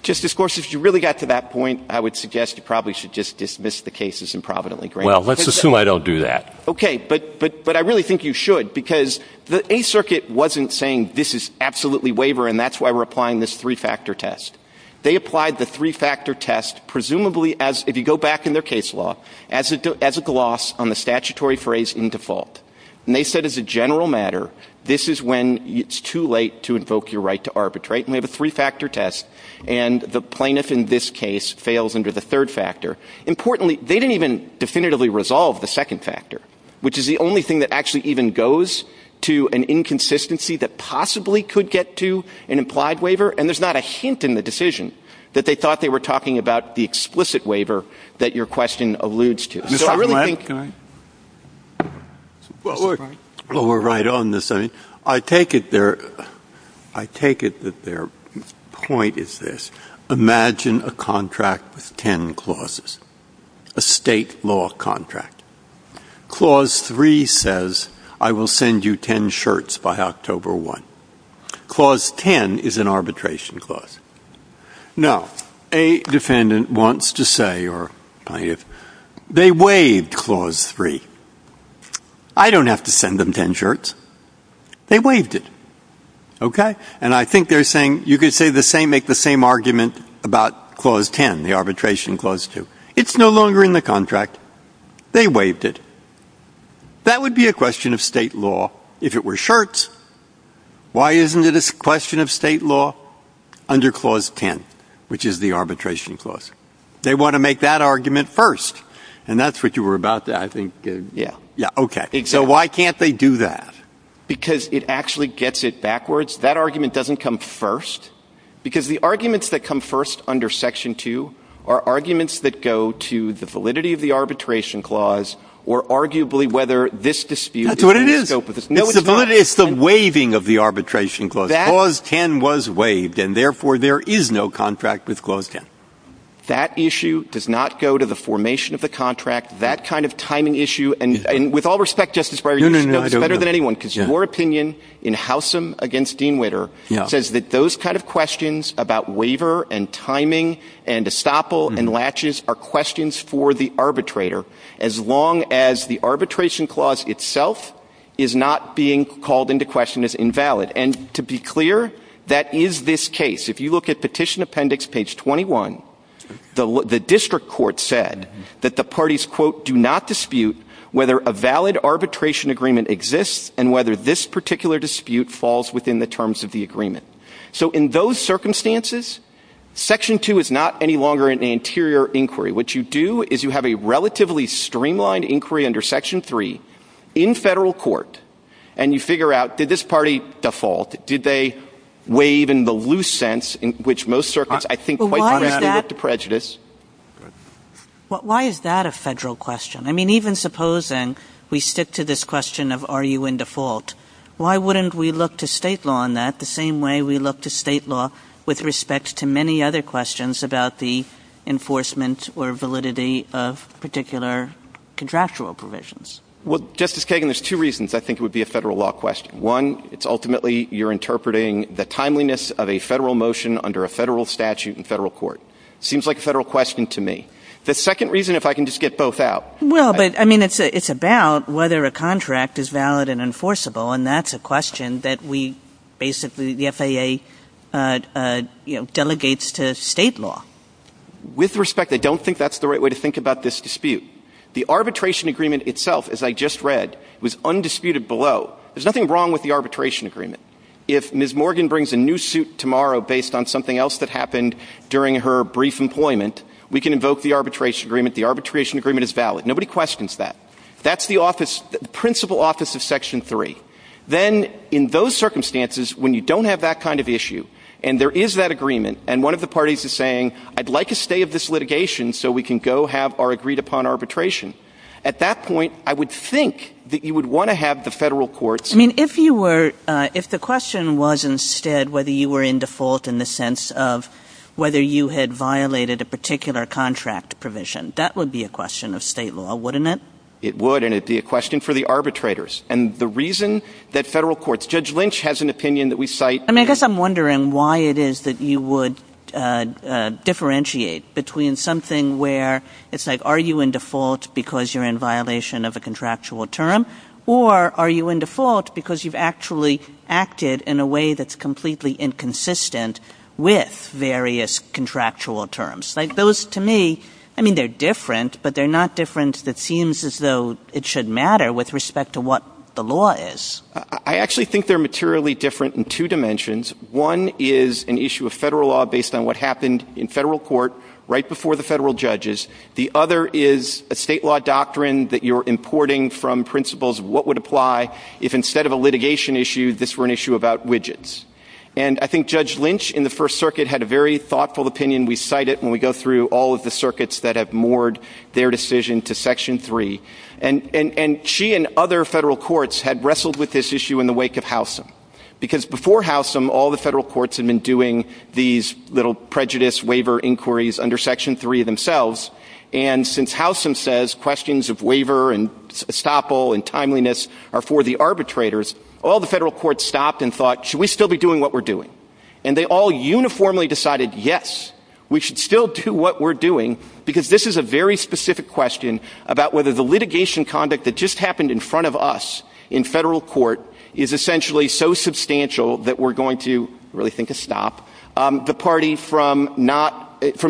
Justice Gorsuch, if you really got to that point, I would suggest you probably should just dismiss the case as improvidently granted. Well, let's assume I don't do that. Okay, but I really think you should because the Eighth Circuit wasn't saying this is absolutely waiver and that's why we're applying this three-factor test. They applied the three-factor test, presumably, if you go back in their case law, as a gloss on the statutory phrase in default. And they said as a general matter, this is when it's too late to invoke your right to arbitrate. And we have a three-factor test, and the plaintiff in this case fails under the third factor. Importantly, they didn't even definitively resolve the second factor, which is the only thing that actually even goes to an inconsistency that possibly could get to an implied waiver. And there's not a hint in the decision that they thought they were talking about the explicit waiver that your question alludes to. Well, we're right on the same. I take it that their point is this. Imagine a contract with ten clauses, a state law contract. Clause 3 says, I will send you ten shirts by October 1. Clause 10 is an arbitration clause. Now, a defendant wants to say, they waived Clause 3. I don't have to send them ten shirts. They waived it. Okay? And I think they're saying, you could make the same argument about Clause 10, the arbitration Clause 2. It's no longer in the contract. They waived it. That would be a question of state law if it were shirts. Why isn't it a question of state law under Clause 10, which is the arbitration clause? They want to make that argument first. And that's what you were about to ask. Yeah, okay. So why can't they do that? Because it actually gets it backwards. That argument doesn't come first, because the arguments that come first under Section 2 are arguments that go to the validity of the arbitration clause, or arguably whether this dispute is going to go for this. That's what it is. It's the waiving of the arbitration clause. Clause 10 was waived, and therefore there is no contract with Clause 10. That issue does not go to the formation of the contract, that kind of timing issue. And with all respect, Justice Breyer, you know this better than anyone, because your opinion in Howsam against Dean Witter says that those kind of questions about waiver and timing and estoppel and latches are questions for the arbitrator, as long as the arbitration clause itself is not being called into question as invalid. And to be clear, that is this case. If you look at Petition Appendix Page 21, the district court said that the parties, quote, do not dispute whether a valid arbitration agreement exists and whether this particular dispute falls within the terms of the agreement. So in those circumstances, Section 2 is not any longer an interior inquiry. What you do is you have a relatively streamlined inquiry under Section 3 in federal court, and you figure out, did this party default? Did they waive in the loose sense in which most circuits, I think, quite frankly, look to prejudice? Why is that a federal question? I mean, even supposing we stick to this question of are you in default, why wouldn't we look to state law on that the same way we look to state law with respect to many other questions about the enforcement or validity of particular contractual provisions? Well, Justice Kagan, there's two reasons I think it would be a federal law question. One, it's ultimately you're interpreting the timeliness of a federal motion under a federal statute in federal court. It seems like a federal question to me. The second reason, if I can just get both out. Well, but, I mean, it's about whether a contract is valid and enforceable, and that's a question that we basically, the FAA, you know, delegates to state law. With respect, I don't think that's the right way to think about this dispute. The arbitration agreement itself, as I just read, was undisputed below. There's nothing wrong with the arbitration agreement. If Ms. Morgan brings a new suit tomorrow based on something else that happened during her brief employment, we can invoke the arbitration agreement. The arbitration agreement is valid. Nobody questions that. That's the principal office of Section 3. Then, in those circumstances, when you don't have that kind of issue, and there is that agreement, and one of the parties is saying, I'd like a stay of this litigation so we can go have our agreed-upon arbitration, at that point I would think that you would want to have the federal courts. I mean, if you were, if the question was instead whether you were in default in the sense of whether you had violated a particular contract provision, that would be a question of state law, wouldn't it? It would, and it would be a question for the arbitrators. And the reason that federal courts, Judge Lynch has an opinion that we cite. I mean, I guess I'm wondering why it is that you would differentiate between something where it's like, are you in default because you're in violation of a contractual term, or are you in default because you've actually acted in a way that's completely inconsistent with various contractual terms? Like, those to me, I mean, they're different, but they're not different that seems as though it should matter with respect to what the law is. I actually think they're materially different in two dimensions. One is an issue of federal law based on what happened in federal court right before the federal judges. The other is a state law doctrine that you're importing from principles of what would apply if instead of a litigation issue, this were an issue about widgets. And I think Judge Lynch in the First Circuit had a very thoughtful opinion. We cite it when we go through all of the circuits that have moored their decision to Section 3. And she and other federal courts had wrestled with this issue in the wake of Howsam. Because before Howsam, all the federal courts had been doing these little prejudice waiver inquiries under Section 3 themselves. And since Howsam says questions of waiver and estoppel and timeliness are for the arbitrators, all the federal courts stopped and thought, should we still be doing what we're doing? And they all uniformly decided, yes, we should still do what we're doing because this is a very specific question about whether the litigation conduct that just happened in front of us in federal court is essentially so substantial that we're going to really think of stop the party from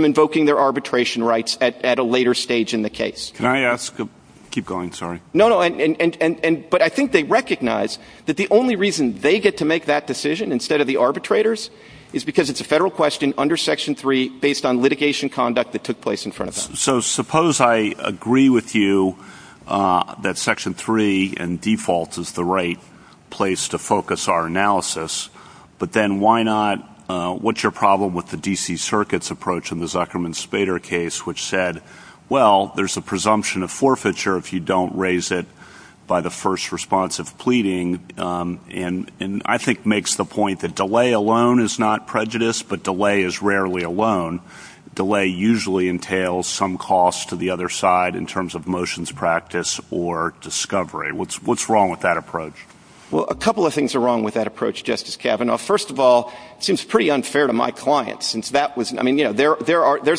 invoking their arbitration rights at a later stage in the case. Can I ask? Keep going, sorry. No, but I think they recognize that the only reason they get to make that decision instead of the arbitrators is because it's a federal question under Section 3 based on litigation conduct that took place in front of them. So suppose I agree with you that Section 3 in default is the right place to focus our analysis, but then why not, what's your problem with the D.C. Circuit's approach in the Zuckerman-Spader case which said, well, there's a presumption of forfeiture if you don't raise it by the first response of pleading and I think makes the point that delay alone is not prejudice, but delay is rarely alone. Delay usually entails some cost to the other side in terms of motions practice or discovery. What's wrong with that approach? Well, a couple of things are wrong with that approach, Justice Kavanaugh. First of all, it seems pretty unfair to my clients. There's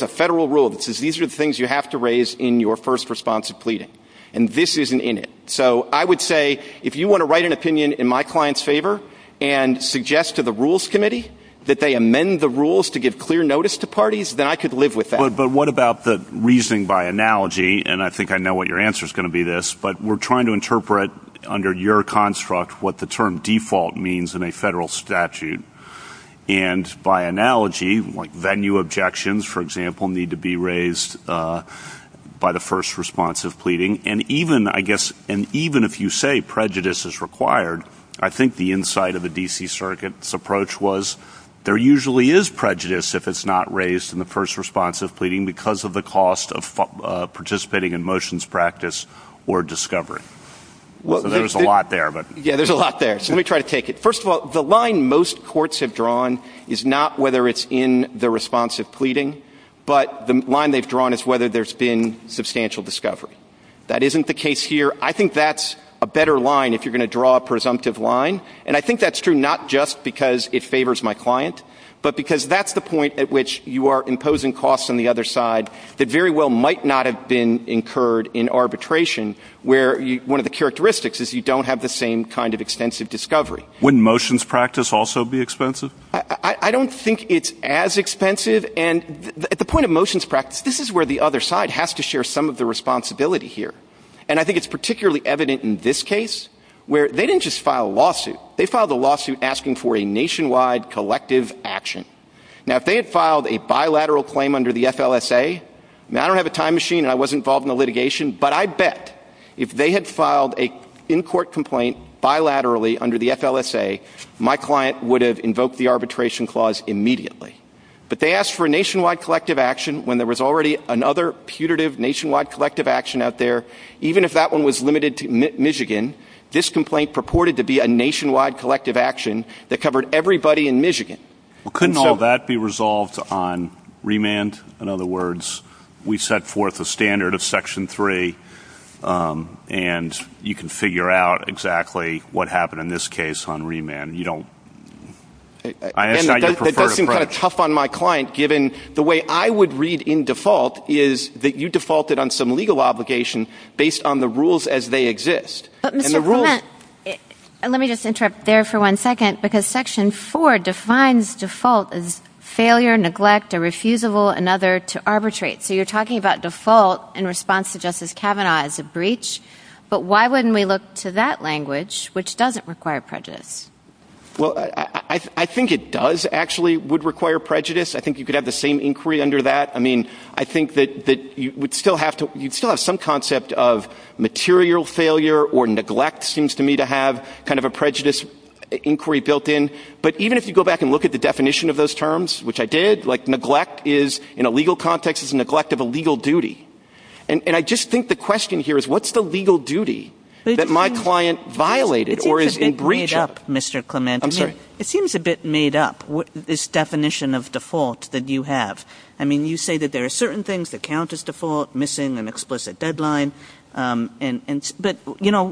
a federal rule that says these are the things you have to raise in your first response of pleading, and this isn't in it. So I would say if you want to write an opinion in my client's favor and suggest to the Rules Committee that they amend the rules to give clear notice to parties, then I could live with that. But what about the reasoning by analogy, and I think I know what your answer is going to be to this, but we're trying to interpret under your construct what the term default means in a federal statute. And by analogy, venue objections, for example, need to be raised by the first response of pleading. And even if you say prejudice is required, I think the insight of the D.C. Circuit's approach was there usually is prejudice if it's not raised in the first response of pleading because of the cost of participating in motions practice or discovery. There's a lot there. Yeah, there's a lot there. So let me try to take it. First of all, the line most courts have drawn is not whether it's in the response of pleading, but the line they've drawn is whether there's been substantial discovery. That isn't the case here. I think that's a better line if you're going to draw a presumptive line, and I think that's true not just because it favors my client, but because that's the point at which you are imposing costs on the other side that very well might not have been incurred in arbitration where one of the characteristics is you don't have the same kind of extensive discovery. Wouldn't motions practice also be expensive? I don't think it's as expensive. And at the point of motions practice, this is where the other side has to share some of the responsibility here. And I think it's particularly evident in this case where they didn't just file a lawsuit. They filed a lawsuit asking for a nationwide collective action. Now, if they had filed a bilateral claim under the FLSA, and I don't have a time machine and I wasn't involved in the litigation, but I bet if they had filed an in-court complaint bilaterally under the FLSA, my client would have invoked the arbitration clause immediately. But they asked for a nationwide collective action when there was already another putative nationwide collective action out there. Even if that one was limited to Michigan, this complaint purported to be a nationwide collective action that covered everybody in Michigan. Well, couldn't all that be resolved on remand? In other words, we set forth a standard of Section 3, and you can figure out exactly what happened in this case on remand. You don't... That seems kind of tough on my client, given the way I would read in default is that you defaulted on some legal obligation based on the rules as they exist. But, Mr. Clement, let me just interrupt there for one second, because Section 4 defines default as failure, neglect, a refusable, another to arbitrate. So you're talking about default in response to Justice Kavanaugh as a breach, but why wouldn't we look to that language, which doesn't require prejudice? Well, I think it does actually would require prejudice. I think you could have the same inquiry under that. I mean, I think that you would still have to... You'd still have some concept of material failure or neglect seems to me to have kind of a prejudice inquiry built in. But even if you go back and look at the definition of those terms, which I did, like neglect in a legal context is neglect of a legal duty. And I just think the question here is, what's the legal duty that my client violated or is in breach of? It seems a bit made up, Mr. Clement. I'm sorry? It seems a bit made up, this definition of default that you have. I mean, you say that there are certain things that count as default, missing an explicit deadline. But, you know,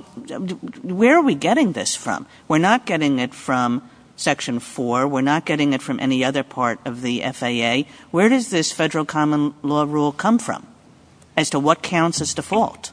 where are we getting this from? We're not getting it from Section 4. We're not getting it from any other part of the FAA. Where does this federal common law rule come from as to what counts as default?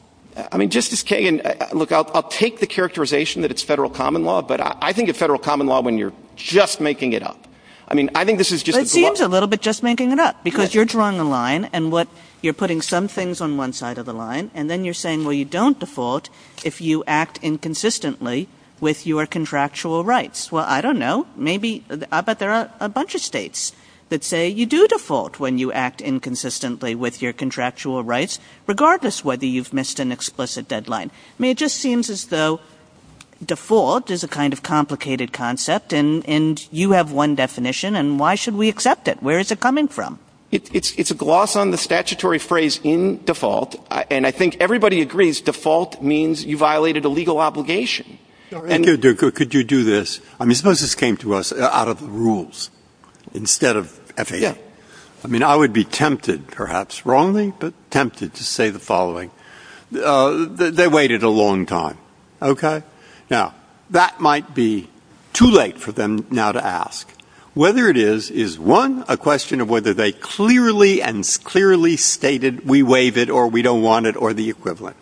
I mean, Justice Kagan, look, I'll take the characterization that it's federal common law, but I think it's federal common law when you're just making it up. I mean, I think this is just... It seems a little bit just making it up because you're drawing a line and what you're putting some things on one side of the line and then you're saying, well, you don't default if you act inconsistently with your contractual rights. Well, I don't know. Maybe, but there are a bunch of states that say you do default when you act inconsistently with your contractual rights, regardless whether you've missed an explicit deadline. I mean, it just seems as though default is a kind of complicated concept and you have one definition, and why should we accept it? Where is it coming from? It's a gloss on the statutory phrase in default, and I think everybody agrees default means you violated a legal obligation. Could you do this? I mean, suppose this came to us out of the rules instead of FDA. I mean, I would be tempted, perhaps wrongly, but tempted to say the following. They waited a long time, okay? Now, that might be too late for them now to ask. Whether it is, is, one, a question of whether they clearly and clearly stated we waive it or we don't want it or the equivalent.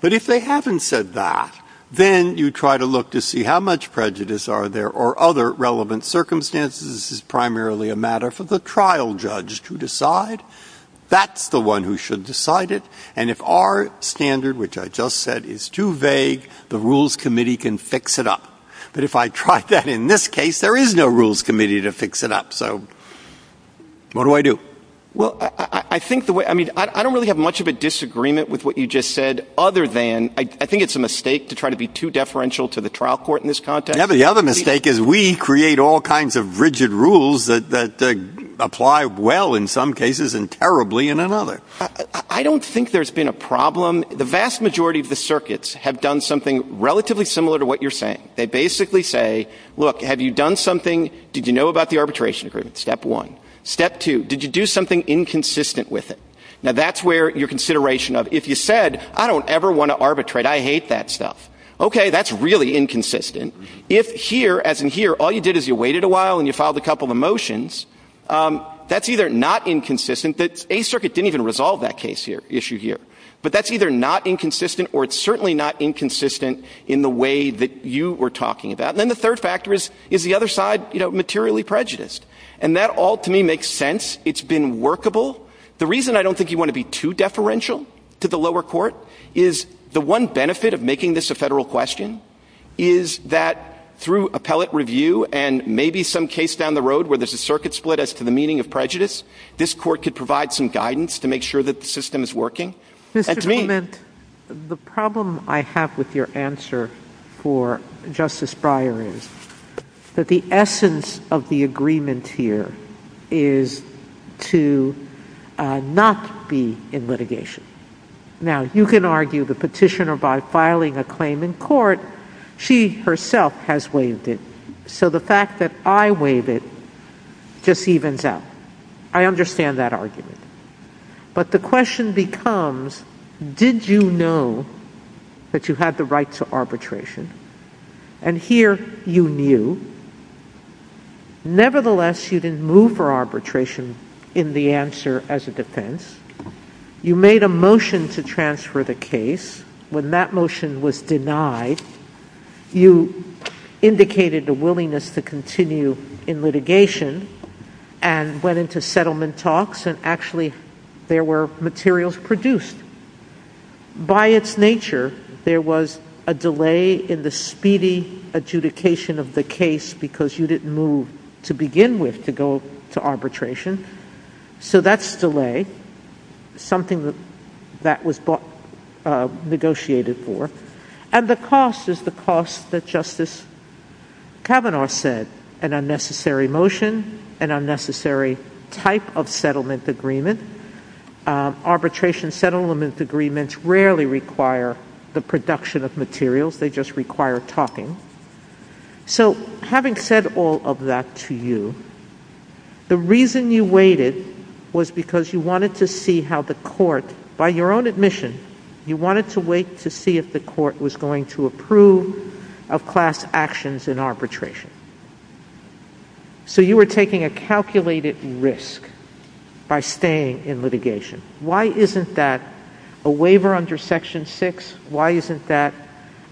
But if they haven't said that, then you try to look to see how much prejudice are there or other relevant circumstances. This is primarily a matter for the trial judge to decide. That's the one who should decide it. And if our standard, which I just said, is too vague, the rules committee can fix it up. But if I tried that in this case, there is no rules committee to fix it up. So what do I do? Well, I think the way, I mean, I don't really have much of a disagreement with what you just said other than, I think it's a mistake to try to be too deferential to the trial court in this context. Yeah, the other mistake is we create all kinds of rigid rules that apply well in some cases and terribly in another. I don't think there's been a problem. The vast majority of the circuits have done something relatively similar to what you're saying. They basically say, look, have you done something, did you know about the arbitration agreement, step one. Step two, did you do something inconsistent with it? Now that's where your consideration of, if you said, I don't ever want to arbitrate, I hate that stuff. Okay, that's really inconsistent. If here, as in here, all you did is you waited a while and you filed a couple of motions, that's either not inconsistent, the Eighth Circuit didn't even resolve that issue here. But that's either not inconsistent or it's certainly not inconsistent in the way that you were talking about. And then the third factor is, is the other side materially prejudiced? And that all, to me, makes sense. It's been workable. The reason I don't think you want to be too deferential to the lower court is the one benefit of making this a federal question is that through appellate review and maybe some case down the road where there's a circuit split as to the meaning of prejudice, this court could provide some guidance to make sure that the system is working. Mr. Clement, the problem I have with your answer for Justice Breyer is that the essence of the agreement here is to not be in litigation. Now, you can argue the petitioner by filing a claim in court. She herself has waived it. So the fact that I waive it just evens out. I understand that argument. But the question becomes, did you know that you had the right to arbitration? And here, you knew. Nevertheless, you didn't move for arbitration in the answer as a defense. You made a motion to transfer the case. When that motion was denied, you indicated the willingness to continue in litigation and went into settlement talks, and actually there were materials produced. By its nature, there was a delay in the speedy adjudication of the case because you didn't move to begin with to go to arbitration. So that's delay, something that was negotiated for. And the cost is the cost that Justice Kavanaugh said, an unnecessary motion, an unnecessary type of settlement agreement. Arbitration settlement agreements rarely require the production of materials. They just require talking. So having said all of that to you, the reason you waited was because you wanted to see how the court, by your own admission, you wanted to wait to see if the court was going to approve of class actions in arbitration. So you were taking a calculated risk by staying in litigation. Why isn't that a waiver under Section 6? Why isn't that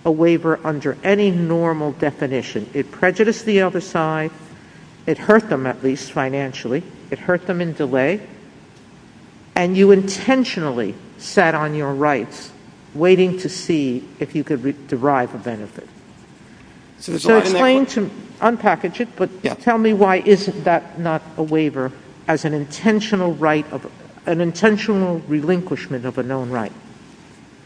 a waiver under any normal definition? It prejudiced the other side. It hurt them, at least financially. It hurt them in delay. And you intentionally sat on your rights, waiting to see if you could derive a benefit. So explain to me, unpackage it, but tell me why isn't that not a waiver as an intentional right, an intentional relinquishment of a known right?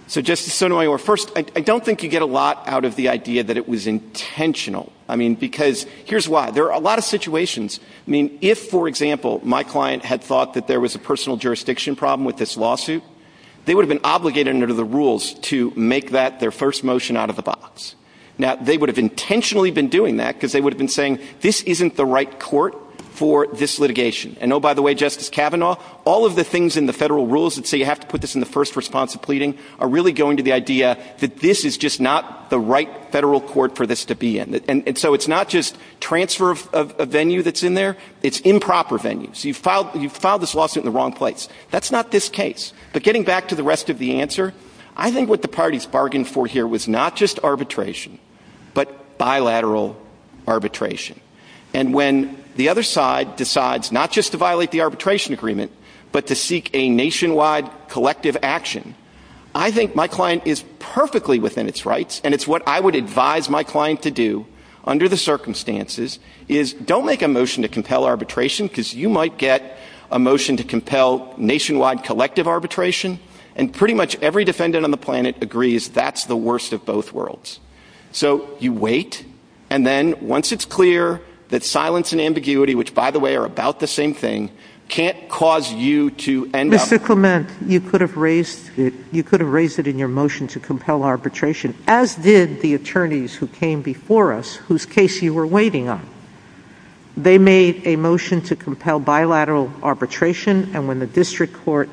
So Justice Sotomayor, first, I don't think you get a lot out of the idea that it was intentional. I mean, because here's why. There are a lot of situations. I mean, if, for example, my client had thought that there was a personal jurisdiction problem with this lawsuit, they would have been obligated under the rules to make that their first motion out of the box. Now, they would have intentionally been doing that because they would have been saying, this isn't the right court for this litigation. And oh, by the way, Justice Kavanaugh, all of the things in the federal rules that say you have to put this in the first response to pleading are really going to the idea that this is just not the right federal court for this to be in. And so it's not just transfer of a venue that's in there. It's improper venues. You filed this lawsuit in the wrong place. That's not this case. But getting back to the rest of the answer, I think what the parties bargained for here was not just arbitration, but bilateral arbitration. And when the other side decides not just to violate the arbitration agreement, but to seek a nationwide collective action, I think my client is perfectly within its rights. And it's what I would advise my client to do under the circumstances is don't make a motion to compel arbitration because you might get a motion to compel nationwide collective arbitration. And pretty much every defendant on the planet agrees that's the worst of both worlds. So you wait. And then once it's clear that silence and ambiguity, which, by the way, are about the same thing, can't cause you to end up. Mr. Clement, you could have raised it in your motion to compel arbitration, as did the attorneys who came before us whose case you were waiting on. They made a motion to compel bilateral arbitration. And when the district court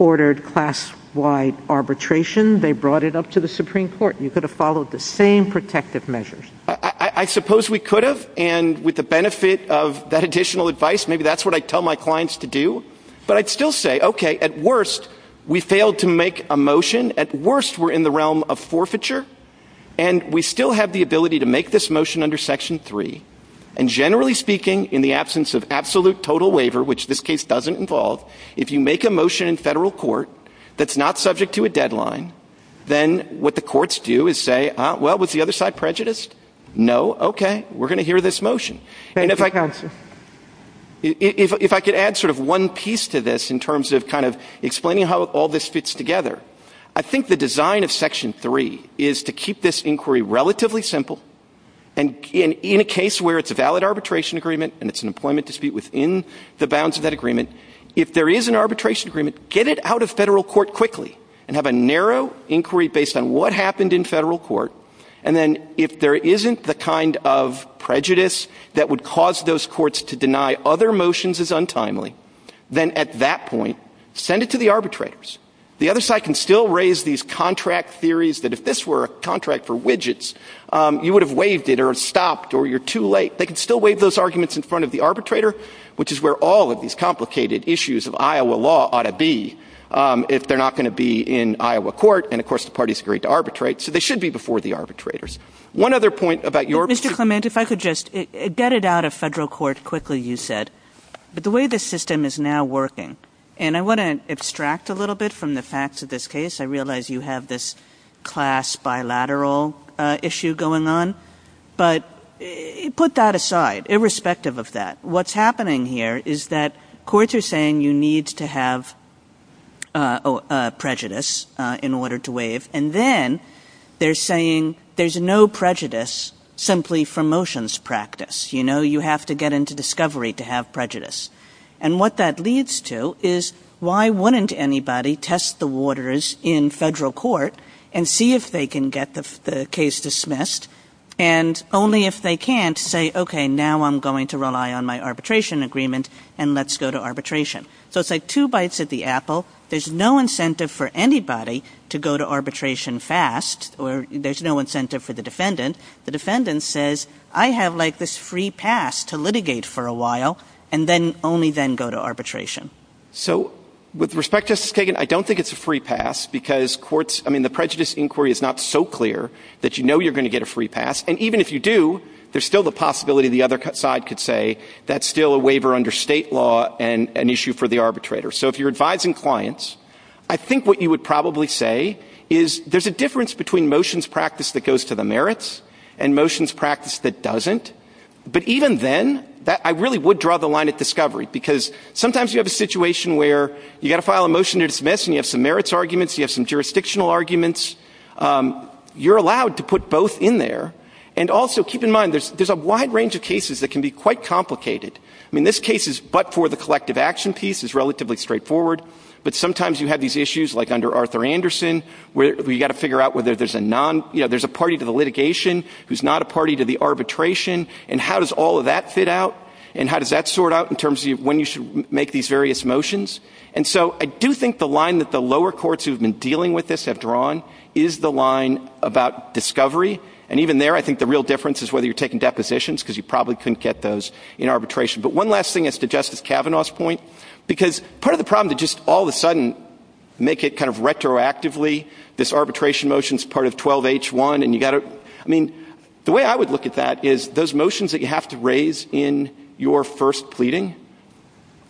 ordered class-wide arbitration, they brought it up to the Supreme Court. You could have followed the same protective measures. I suppose we could have. And with the benefit of that additional advice, maybe that's what I tell my clients to do. But I'd still say, okay, at worst, we failed to make a motion. At worst, we're in the realm of forfeiture. And we still have the ability to make this motion under Section 3. And generally speaking, in the absence of absolute total waiver, which this case doesn't involve, then what the courts do is say, well, was the other side prejudiced? No? Okay. We're going to hear this motion. And if I could add sort of one piece to this in terms of kind of explaining how all this fits together, I think the design of Section 3 is to keep this inquiry relatively simple. And in a case where it's a valid arbitration agreement and it's an employment dispute within the bounds of that agreement, if there is an arbitration agreement, get it out of federal court quickly and have a narrow inquiry based on what happened in federal court. And then if there isn't the kind of prejudice that would cause those courts to deny other motions as untimely, then at that point, send it to the arbitrators. The other side can still raise these contract theories that if this were a contract for widgets, you would have waived it or stopped or you're too late. They can still waive those arguments in front of the arbitrator, which is where all of these complicated issues of Iowa law ought to be if they're not going to be in Iowa court. And, of course, the party is great to arbitrate. So they should be before the arbitrators. One other point about your- Mr. Clement, if I could just get it out of federal court quickly, you said. But the way the system is now working, and I want to extract a little bit from the facts of this case. I realize you have this class bilateral issue going on. But put that aside, irrespective of that. What's happening here is that courts are saying you need to have prejudice in order to waive. And then they're saying there's no prejudice simply from motions practice. You have to get into discovery to have prejudice. And what that leads to is why wouldn't anybody test the waters in federal court and see if they can get the case dismissed, and only if they can't say, okay, now I'm going to rely on my arbitration agreement, and let's go to arbitration. So it's like two bites at the apple. There's no incentive for anybody to go to arbitration fast, or there's no incentive for the defendant. The defendant says, I have like this free pass to litigate for a while, and then only then go to arbitration. So with respect, Justice Kagan, I don't think it's a free pass because courts- that you know you're going to get a free pass. And even if you do, there's still the possibility the other side could say that's still a waiver under state law and an issue for the arbitrator. So if you're advising clients, I think what you would probably say is there's a difference between motions practice that goes to the merits and motions practice that doesn't. But even then, I really would draw the line at discovery, because sometimes you have a situation where you've got to file a motion to dismiss, and you have some merits arguments, you have some jurisdictional arguments. You're allowed to put both in there. And also keep in mind, there's a wide range of cases that can be quite complicated. I mean, this case is but for the collective action piece. It's relatively straightforward. But sometimes you have these issues, like under Arthur Anderson, where you've got to figure out whether there's a party to the litigation who's not a party to the arbitration. And how does all of that fit out? And how does that sort out in terms of when you should make these various motions? And so I do think the line that the lower courts who have been dealing with this have drawn is the line about discovery. And even there, I think the real difference is whether you're taking depositions, because you probably couldn't get those in arbitration. But one last thing as to Justice Kavanaugh's point, because part of the problem is just all of a sudden make it kind of retroactively. This arbitration motion is part of 12-H-1. I mean, the way I would look at that is those motions that you have to raise in your first pleading,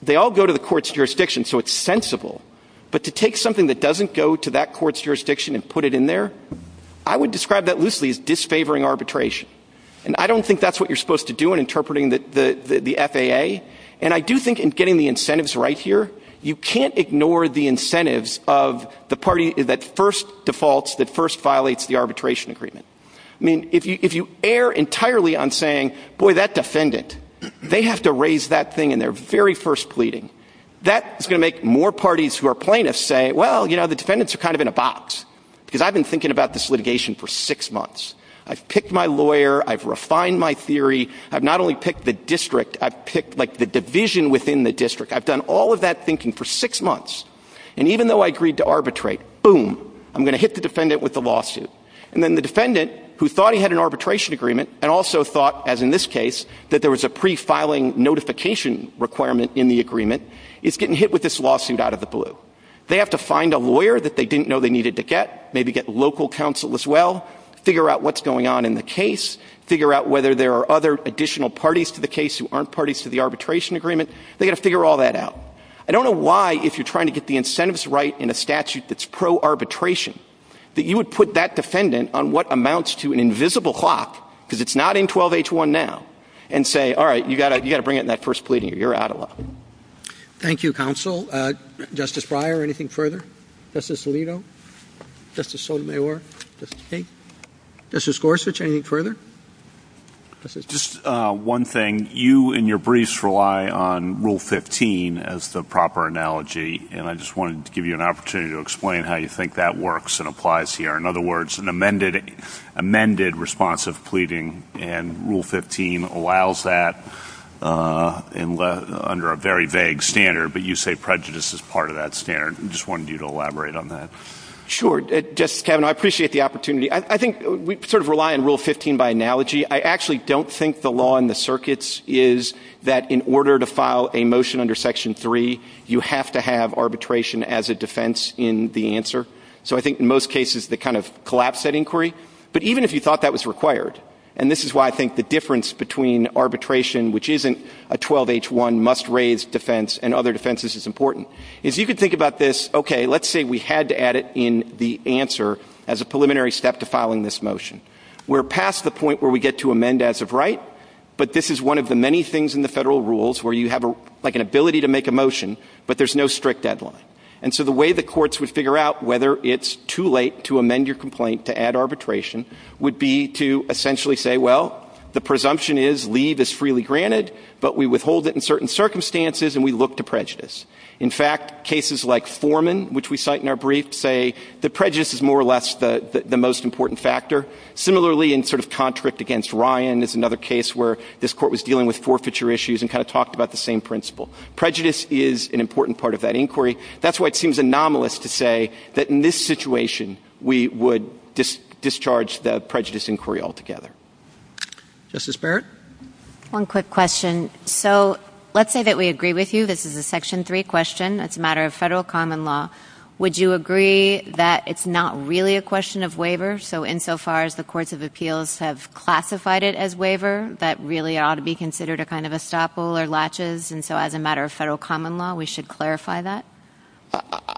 they all go to the court's jurisdiction, so it's sensible. But to take something that doesn't go to that court's jurisdiction and put it in there, I would describe that loosely as disfavoring arbitration. And I don't think that's what you're supposed to do in interpreting the FAA. And I do think in getting the incentives right here, you can't ignore the incentives of the party that first defaults, that first violates the arbitration agreement. I mean, if you err entirely on saying, boy, that defendant, they have to raise that thing in their very first pleading. That is going to make more parties who are plaintiffs say, well, you know, the defendants are kind of in a box, because I've been thinking about this litigation for six months. I've picked my lawyer. I've refined my theory. I've not only picked the district, I've picked, like, the division within the district. I've done all of that thinking for six months. And even though I agreed to arbitrate, boom, I'm going to hit the defendant with the lawsuit. And then the defendant, who thought he had an arbitration agreement, and also thought, as in this case, that there was a pre-filing notification requirement in the agreement, is getting hit with this lawsuit out of the blue. They have to find a lawyer that they didn't know they needed to get, maybe get local counsel as well, figure out what's going on in the case, figure out whether there are other additional parties to the case who aren't parties to the arbitration agreement. They've got to figure all that out. I don't know why, if you're trying to get the incentives right in a statute that's pro-arbitration, that you would put that defendant on what amounts to an invisible clock, because it's not in 12-H-1 now, and say, all right, you've got to bring it in that first plea hearing. You're out of luck. Thank you, Counsel. Justice Breyer, anything further? Justice Alito? Justice Sotomayor? Justice King? Justice Gorsuch, anything further? Just one thing. You, in your briefs, rely on Rule 15 as the proper analogy, and I just wanted to give you an opportunity to explain how you think that works and applies here. In other words, an amended response of pleading and Rule 15 allows that under a very vague standard, but you say prejudice is part of that standard. I just wanted you to elaborate on that. Sure. Justice Kavanaugh, I appreciate the opportunity. I think we sort of rely on Rule 15 by analogy. I actually don't think the law in the circuits is that in order to file a motion under Section 3, you have to have arbitration as a defense in the answer. So I think in most cases they kind of collapse that inquiry. But even if you thought that was required, and this is why I think the difference between arbitration, which isn't a 12-H-1 must-raise defense and other defenses is important. If you could think about this, okay, let's say we had to add it in the answer as a preliminary step to filing this motion. We're past the point where we get to amend as of right, but this is one of the many things in the federal rules where you have like an ability to make a motion, but there's no strict deadline. And so the way the courts would figure out whether it's too late to amend your complaint to add arbitration would be to essentially say, well, the presumption is leave is freely granted, but we withhold it in certain circumstances and we look to prejudice. In fact, cases like Foreman, which we cite in our brief, say that prejudice is more or less the most important factor. Similarly, in sort of contract against Ryan is another case where this court was dealing with forfeiture issues and kind of talked about the same principle. Prejudice is an important part of that inquiry. That's why it seems anomalous to say that in this situation we would discharge the prejudice inquiry altogether. Justice Barrett? One quick question. So let's say that we agree with you. This is a Section 3 question. It's a matter of federal common law. Would you agree that it's not really a question of waiver? So insofar as the courts of appeals have classified it as waiver, that really ought to be considered a kind of estoppel or latches, and so as a matter of federal common law we should clarify that?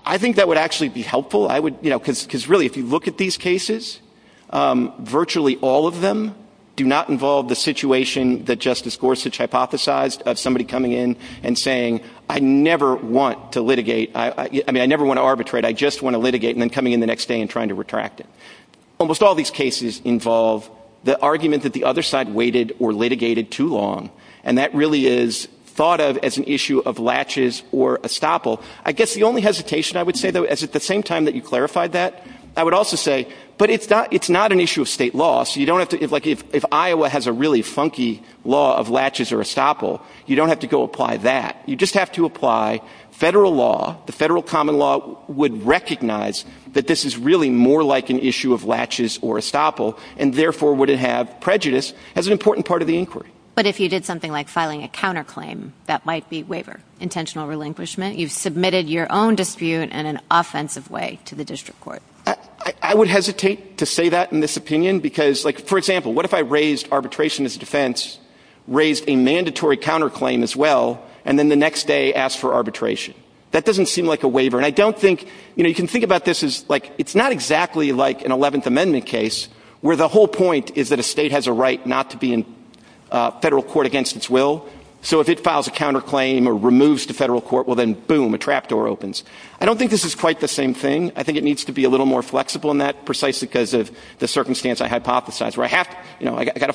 I think that would actually be helpful. Because really if you look at these cases, virtually all of them do not involve the situation that Justice Gorsuch hypothesized of somebody coming in and saying, I never want to litigate. I mean, I never want to arbitrate. I just want to litigate, and then coming in the next day and trying to retract it. Almost all of these cases involve the argument that the other side waited or litigated too long, and that really is thought of as an issue of latches or estoppel. I guess the only hesitation I would say, though, is at the same time that you clarified that, I would also say, but it's not an issue of state law. So you don't have to, like if Iowa has a really funky law of latches or estoppel, you don't have to go apply that. You just have to apply federal law. The federal common law would recognize that this is really more like an issue of latches or estoppel, and therefore would have prejudice as an important part of the inquiry. But if you did something like filing a counterclaim, that might be waiver, intentional relinquishment. You've submitted your own dispute in an offensive way to the district court. I would hesitate to say that in this opinion because, like, for example, what if I raised arbitration as a defense, raised a mandatory counterclaim as well, and then the next day asked for arbitration? That doesn't seem like a waiver. And I don't think, you know, you can think about this as, like, it's not exactly like an 11th Amendment case where the whole point is that a state has a right not to be in federal court against its will. So if it files a counterclaim or removes to federal court, well then, boom, a trap door opens. I don't think this is quite the same thing. I think it needs to be a little more flexible in that precisely because of the circumstance I hypothesized, where I have to, you know, I've got to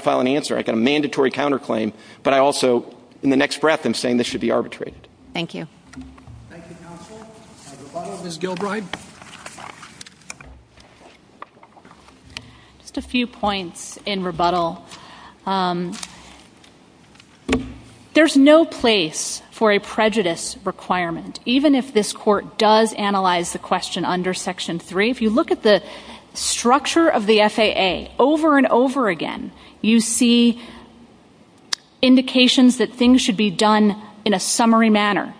file an answer, I've got a mandatory counterclaim, but I also in the next breath am saying this should be arbitrated. Thank you. Thank you, counsel. Rebuttal, Ms. Gilbride. Just a few points in rebuttal. There's no place for a prejudice requirement, even if this court does analyze the question under Section 3. If you look at the structure of the FAA over and over again, you see indications that things should be done in a summary manner.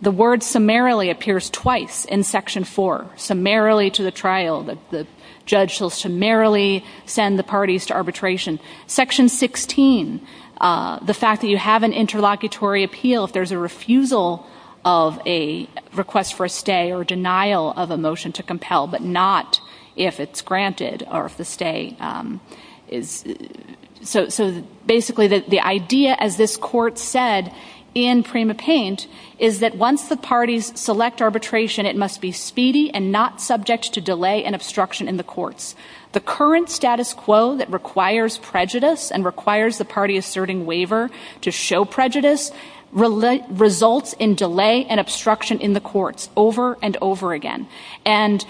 The word summarily appears twice in Section 4, summarily to the trial. The judge will summarily send the parties to arbitration. Section 16, the fact that you have an interlocutory appeal, if there's a refusal of a request for a stay or denial of a motion to compel, but not if it's granted or if the stay is. So basically the idea, as this court said in Prima Paint, is that once the parties select arbitration, it must be speedy and not subject to delay and obstruction in the courts. The current status quo that requires prejudice and requires the party asserting waiver to show prejudice results in delay and obstruction in the courts over and over again. And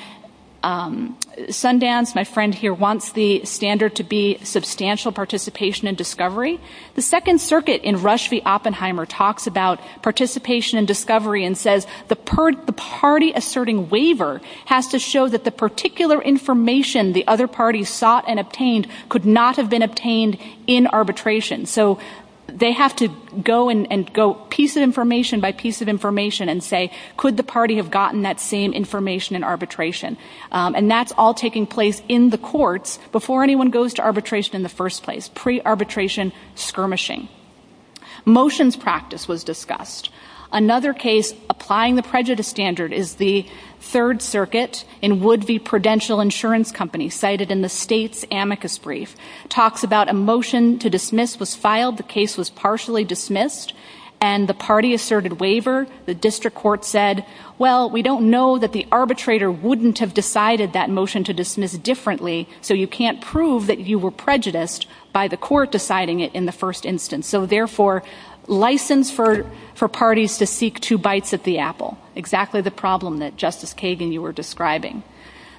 Sundance, my friend here, wants the standard to be substantial participation and discovery. The Second Circuit in Rush v. Oppenheimer talks about participation and discovery and says the party asserting waiver has to show that the particular information the other party sought and obtained could not have been obtained in arbitration. So they have to go piece of information by piece of information and say, could the party have gotten that same information in arbitration? And that's all taking place in the courts before anyone goes to arbitration in the first place, pre-arbitration skirmishing. Motions practice was discussed. Another case applying the prejudice standard is the Third Circuit in Wood v. Prudential Insurance Company, cited in the state's amicus brief, talks about a motion to dismiss was filed, the case was partially dismissed, and the party asserted waiver. The district court said, well, we don't know that the arbitrator wouldn't have decided that motion to dismiss differently, so you can't prove that you were prejudiced by the court deciding it in the first instance. So, therefore, license for parties to seek two bites at the apple, exactly the problem that, Justice Kagan, you were describing.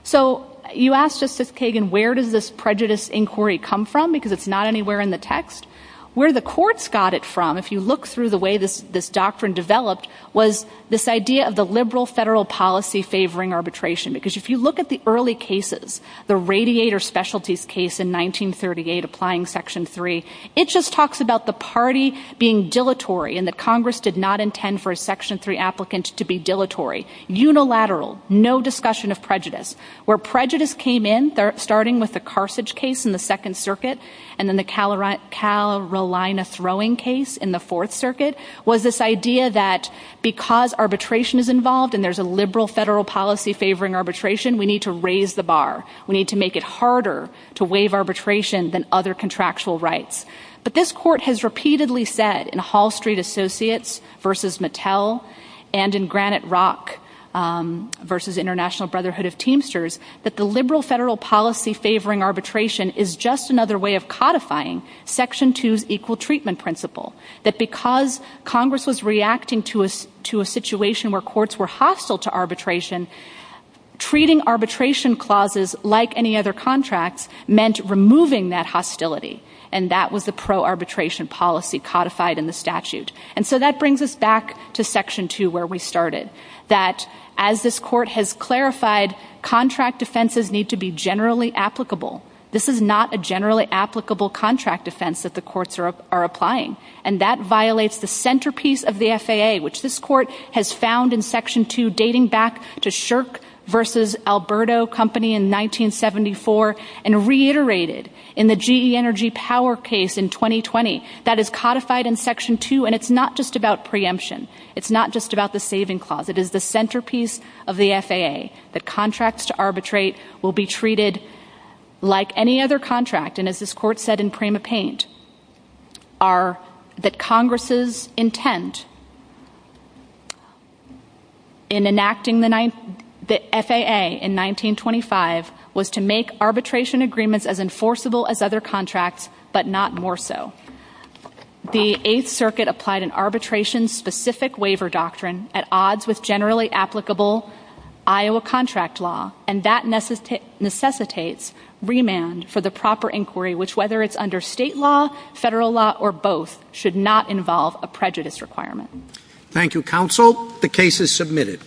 So you ask Justice Kagan, where does this prejudice inquiry come from? Because it's not anywhere in the text. Where the courts got it from, if you look through the way this doctrine developed, was this idea of the liberal federal policy favoring arbitration. Because if you look at the early cases, the radiator specialties case in 1938 applying Section 3, it just talks about the party being dilatory and that Congress did not intend for a Section 3 applicant to be dilatory. Unilateral, no discussion of prejudice. Where prejudice came in, starting with the Carthage case in the Second Circuit and then the Carolina throwing case in the Fourth Circuit, was this idea that because arbitration is involved and there's a liberal federal policy favoring arbitration, we need to raise the bar. We need to make it harder to waive arbitration than other contractual rights. But this court has repeatedly said in Hall Street Associates v. Mattel and in Granite Rock v. International Brotherhood of Teamsters that the liberal federal policy favoring arbitration is just another way of codifying Section 2's equal treatment principle. That because Congress was reacting to a situation where courts were hostile to arbitration, treating arbitration clauses like any other contract meant removing that hostility. And that was a pro-arbitration policy codified in the statute. And so that brings us back to Section 2 where we started. That as this court has clarified, contract offenses need to be generally applicable. This is not a generally applicable contract offense that the courts are applying. And that violates the centerpiece of the FAA, which this court has found in Section 2 dating back to Shirk v. Alberto Company in 1974 and reiterated in the GE Energy Power case in 2020. That is codified in Section 2, and it's not just about preemption. It's not just about the saving clause. It is the centerpiece of the FAA. That contracts to arbitrate will be treated like any other contract. And as this court said in Prima Paint, that Congress's intent in enacting the FAA in 1925 was to make arbitration agreements as enforceable as other contracts, but not more so. The Eighth Circuit applied an arbitration-specific waiver doctrine at odds with generally applicable Iowa contract law, and that necessitates remand for the proper inquiry, which, whether it's under state law, federal law, or both, should not involve a prejudice requirement. Thank you, Counsel. The case is submitted.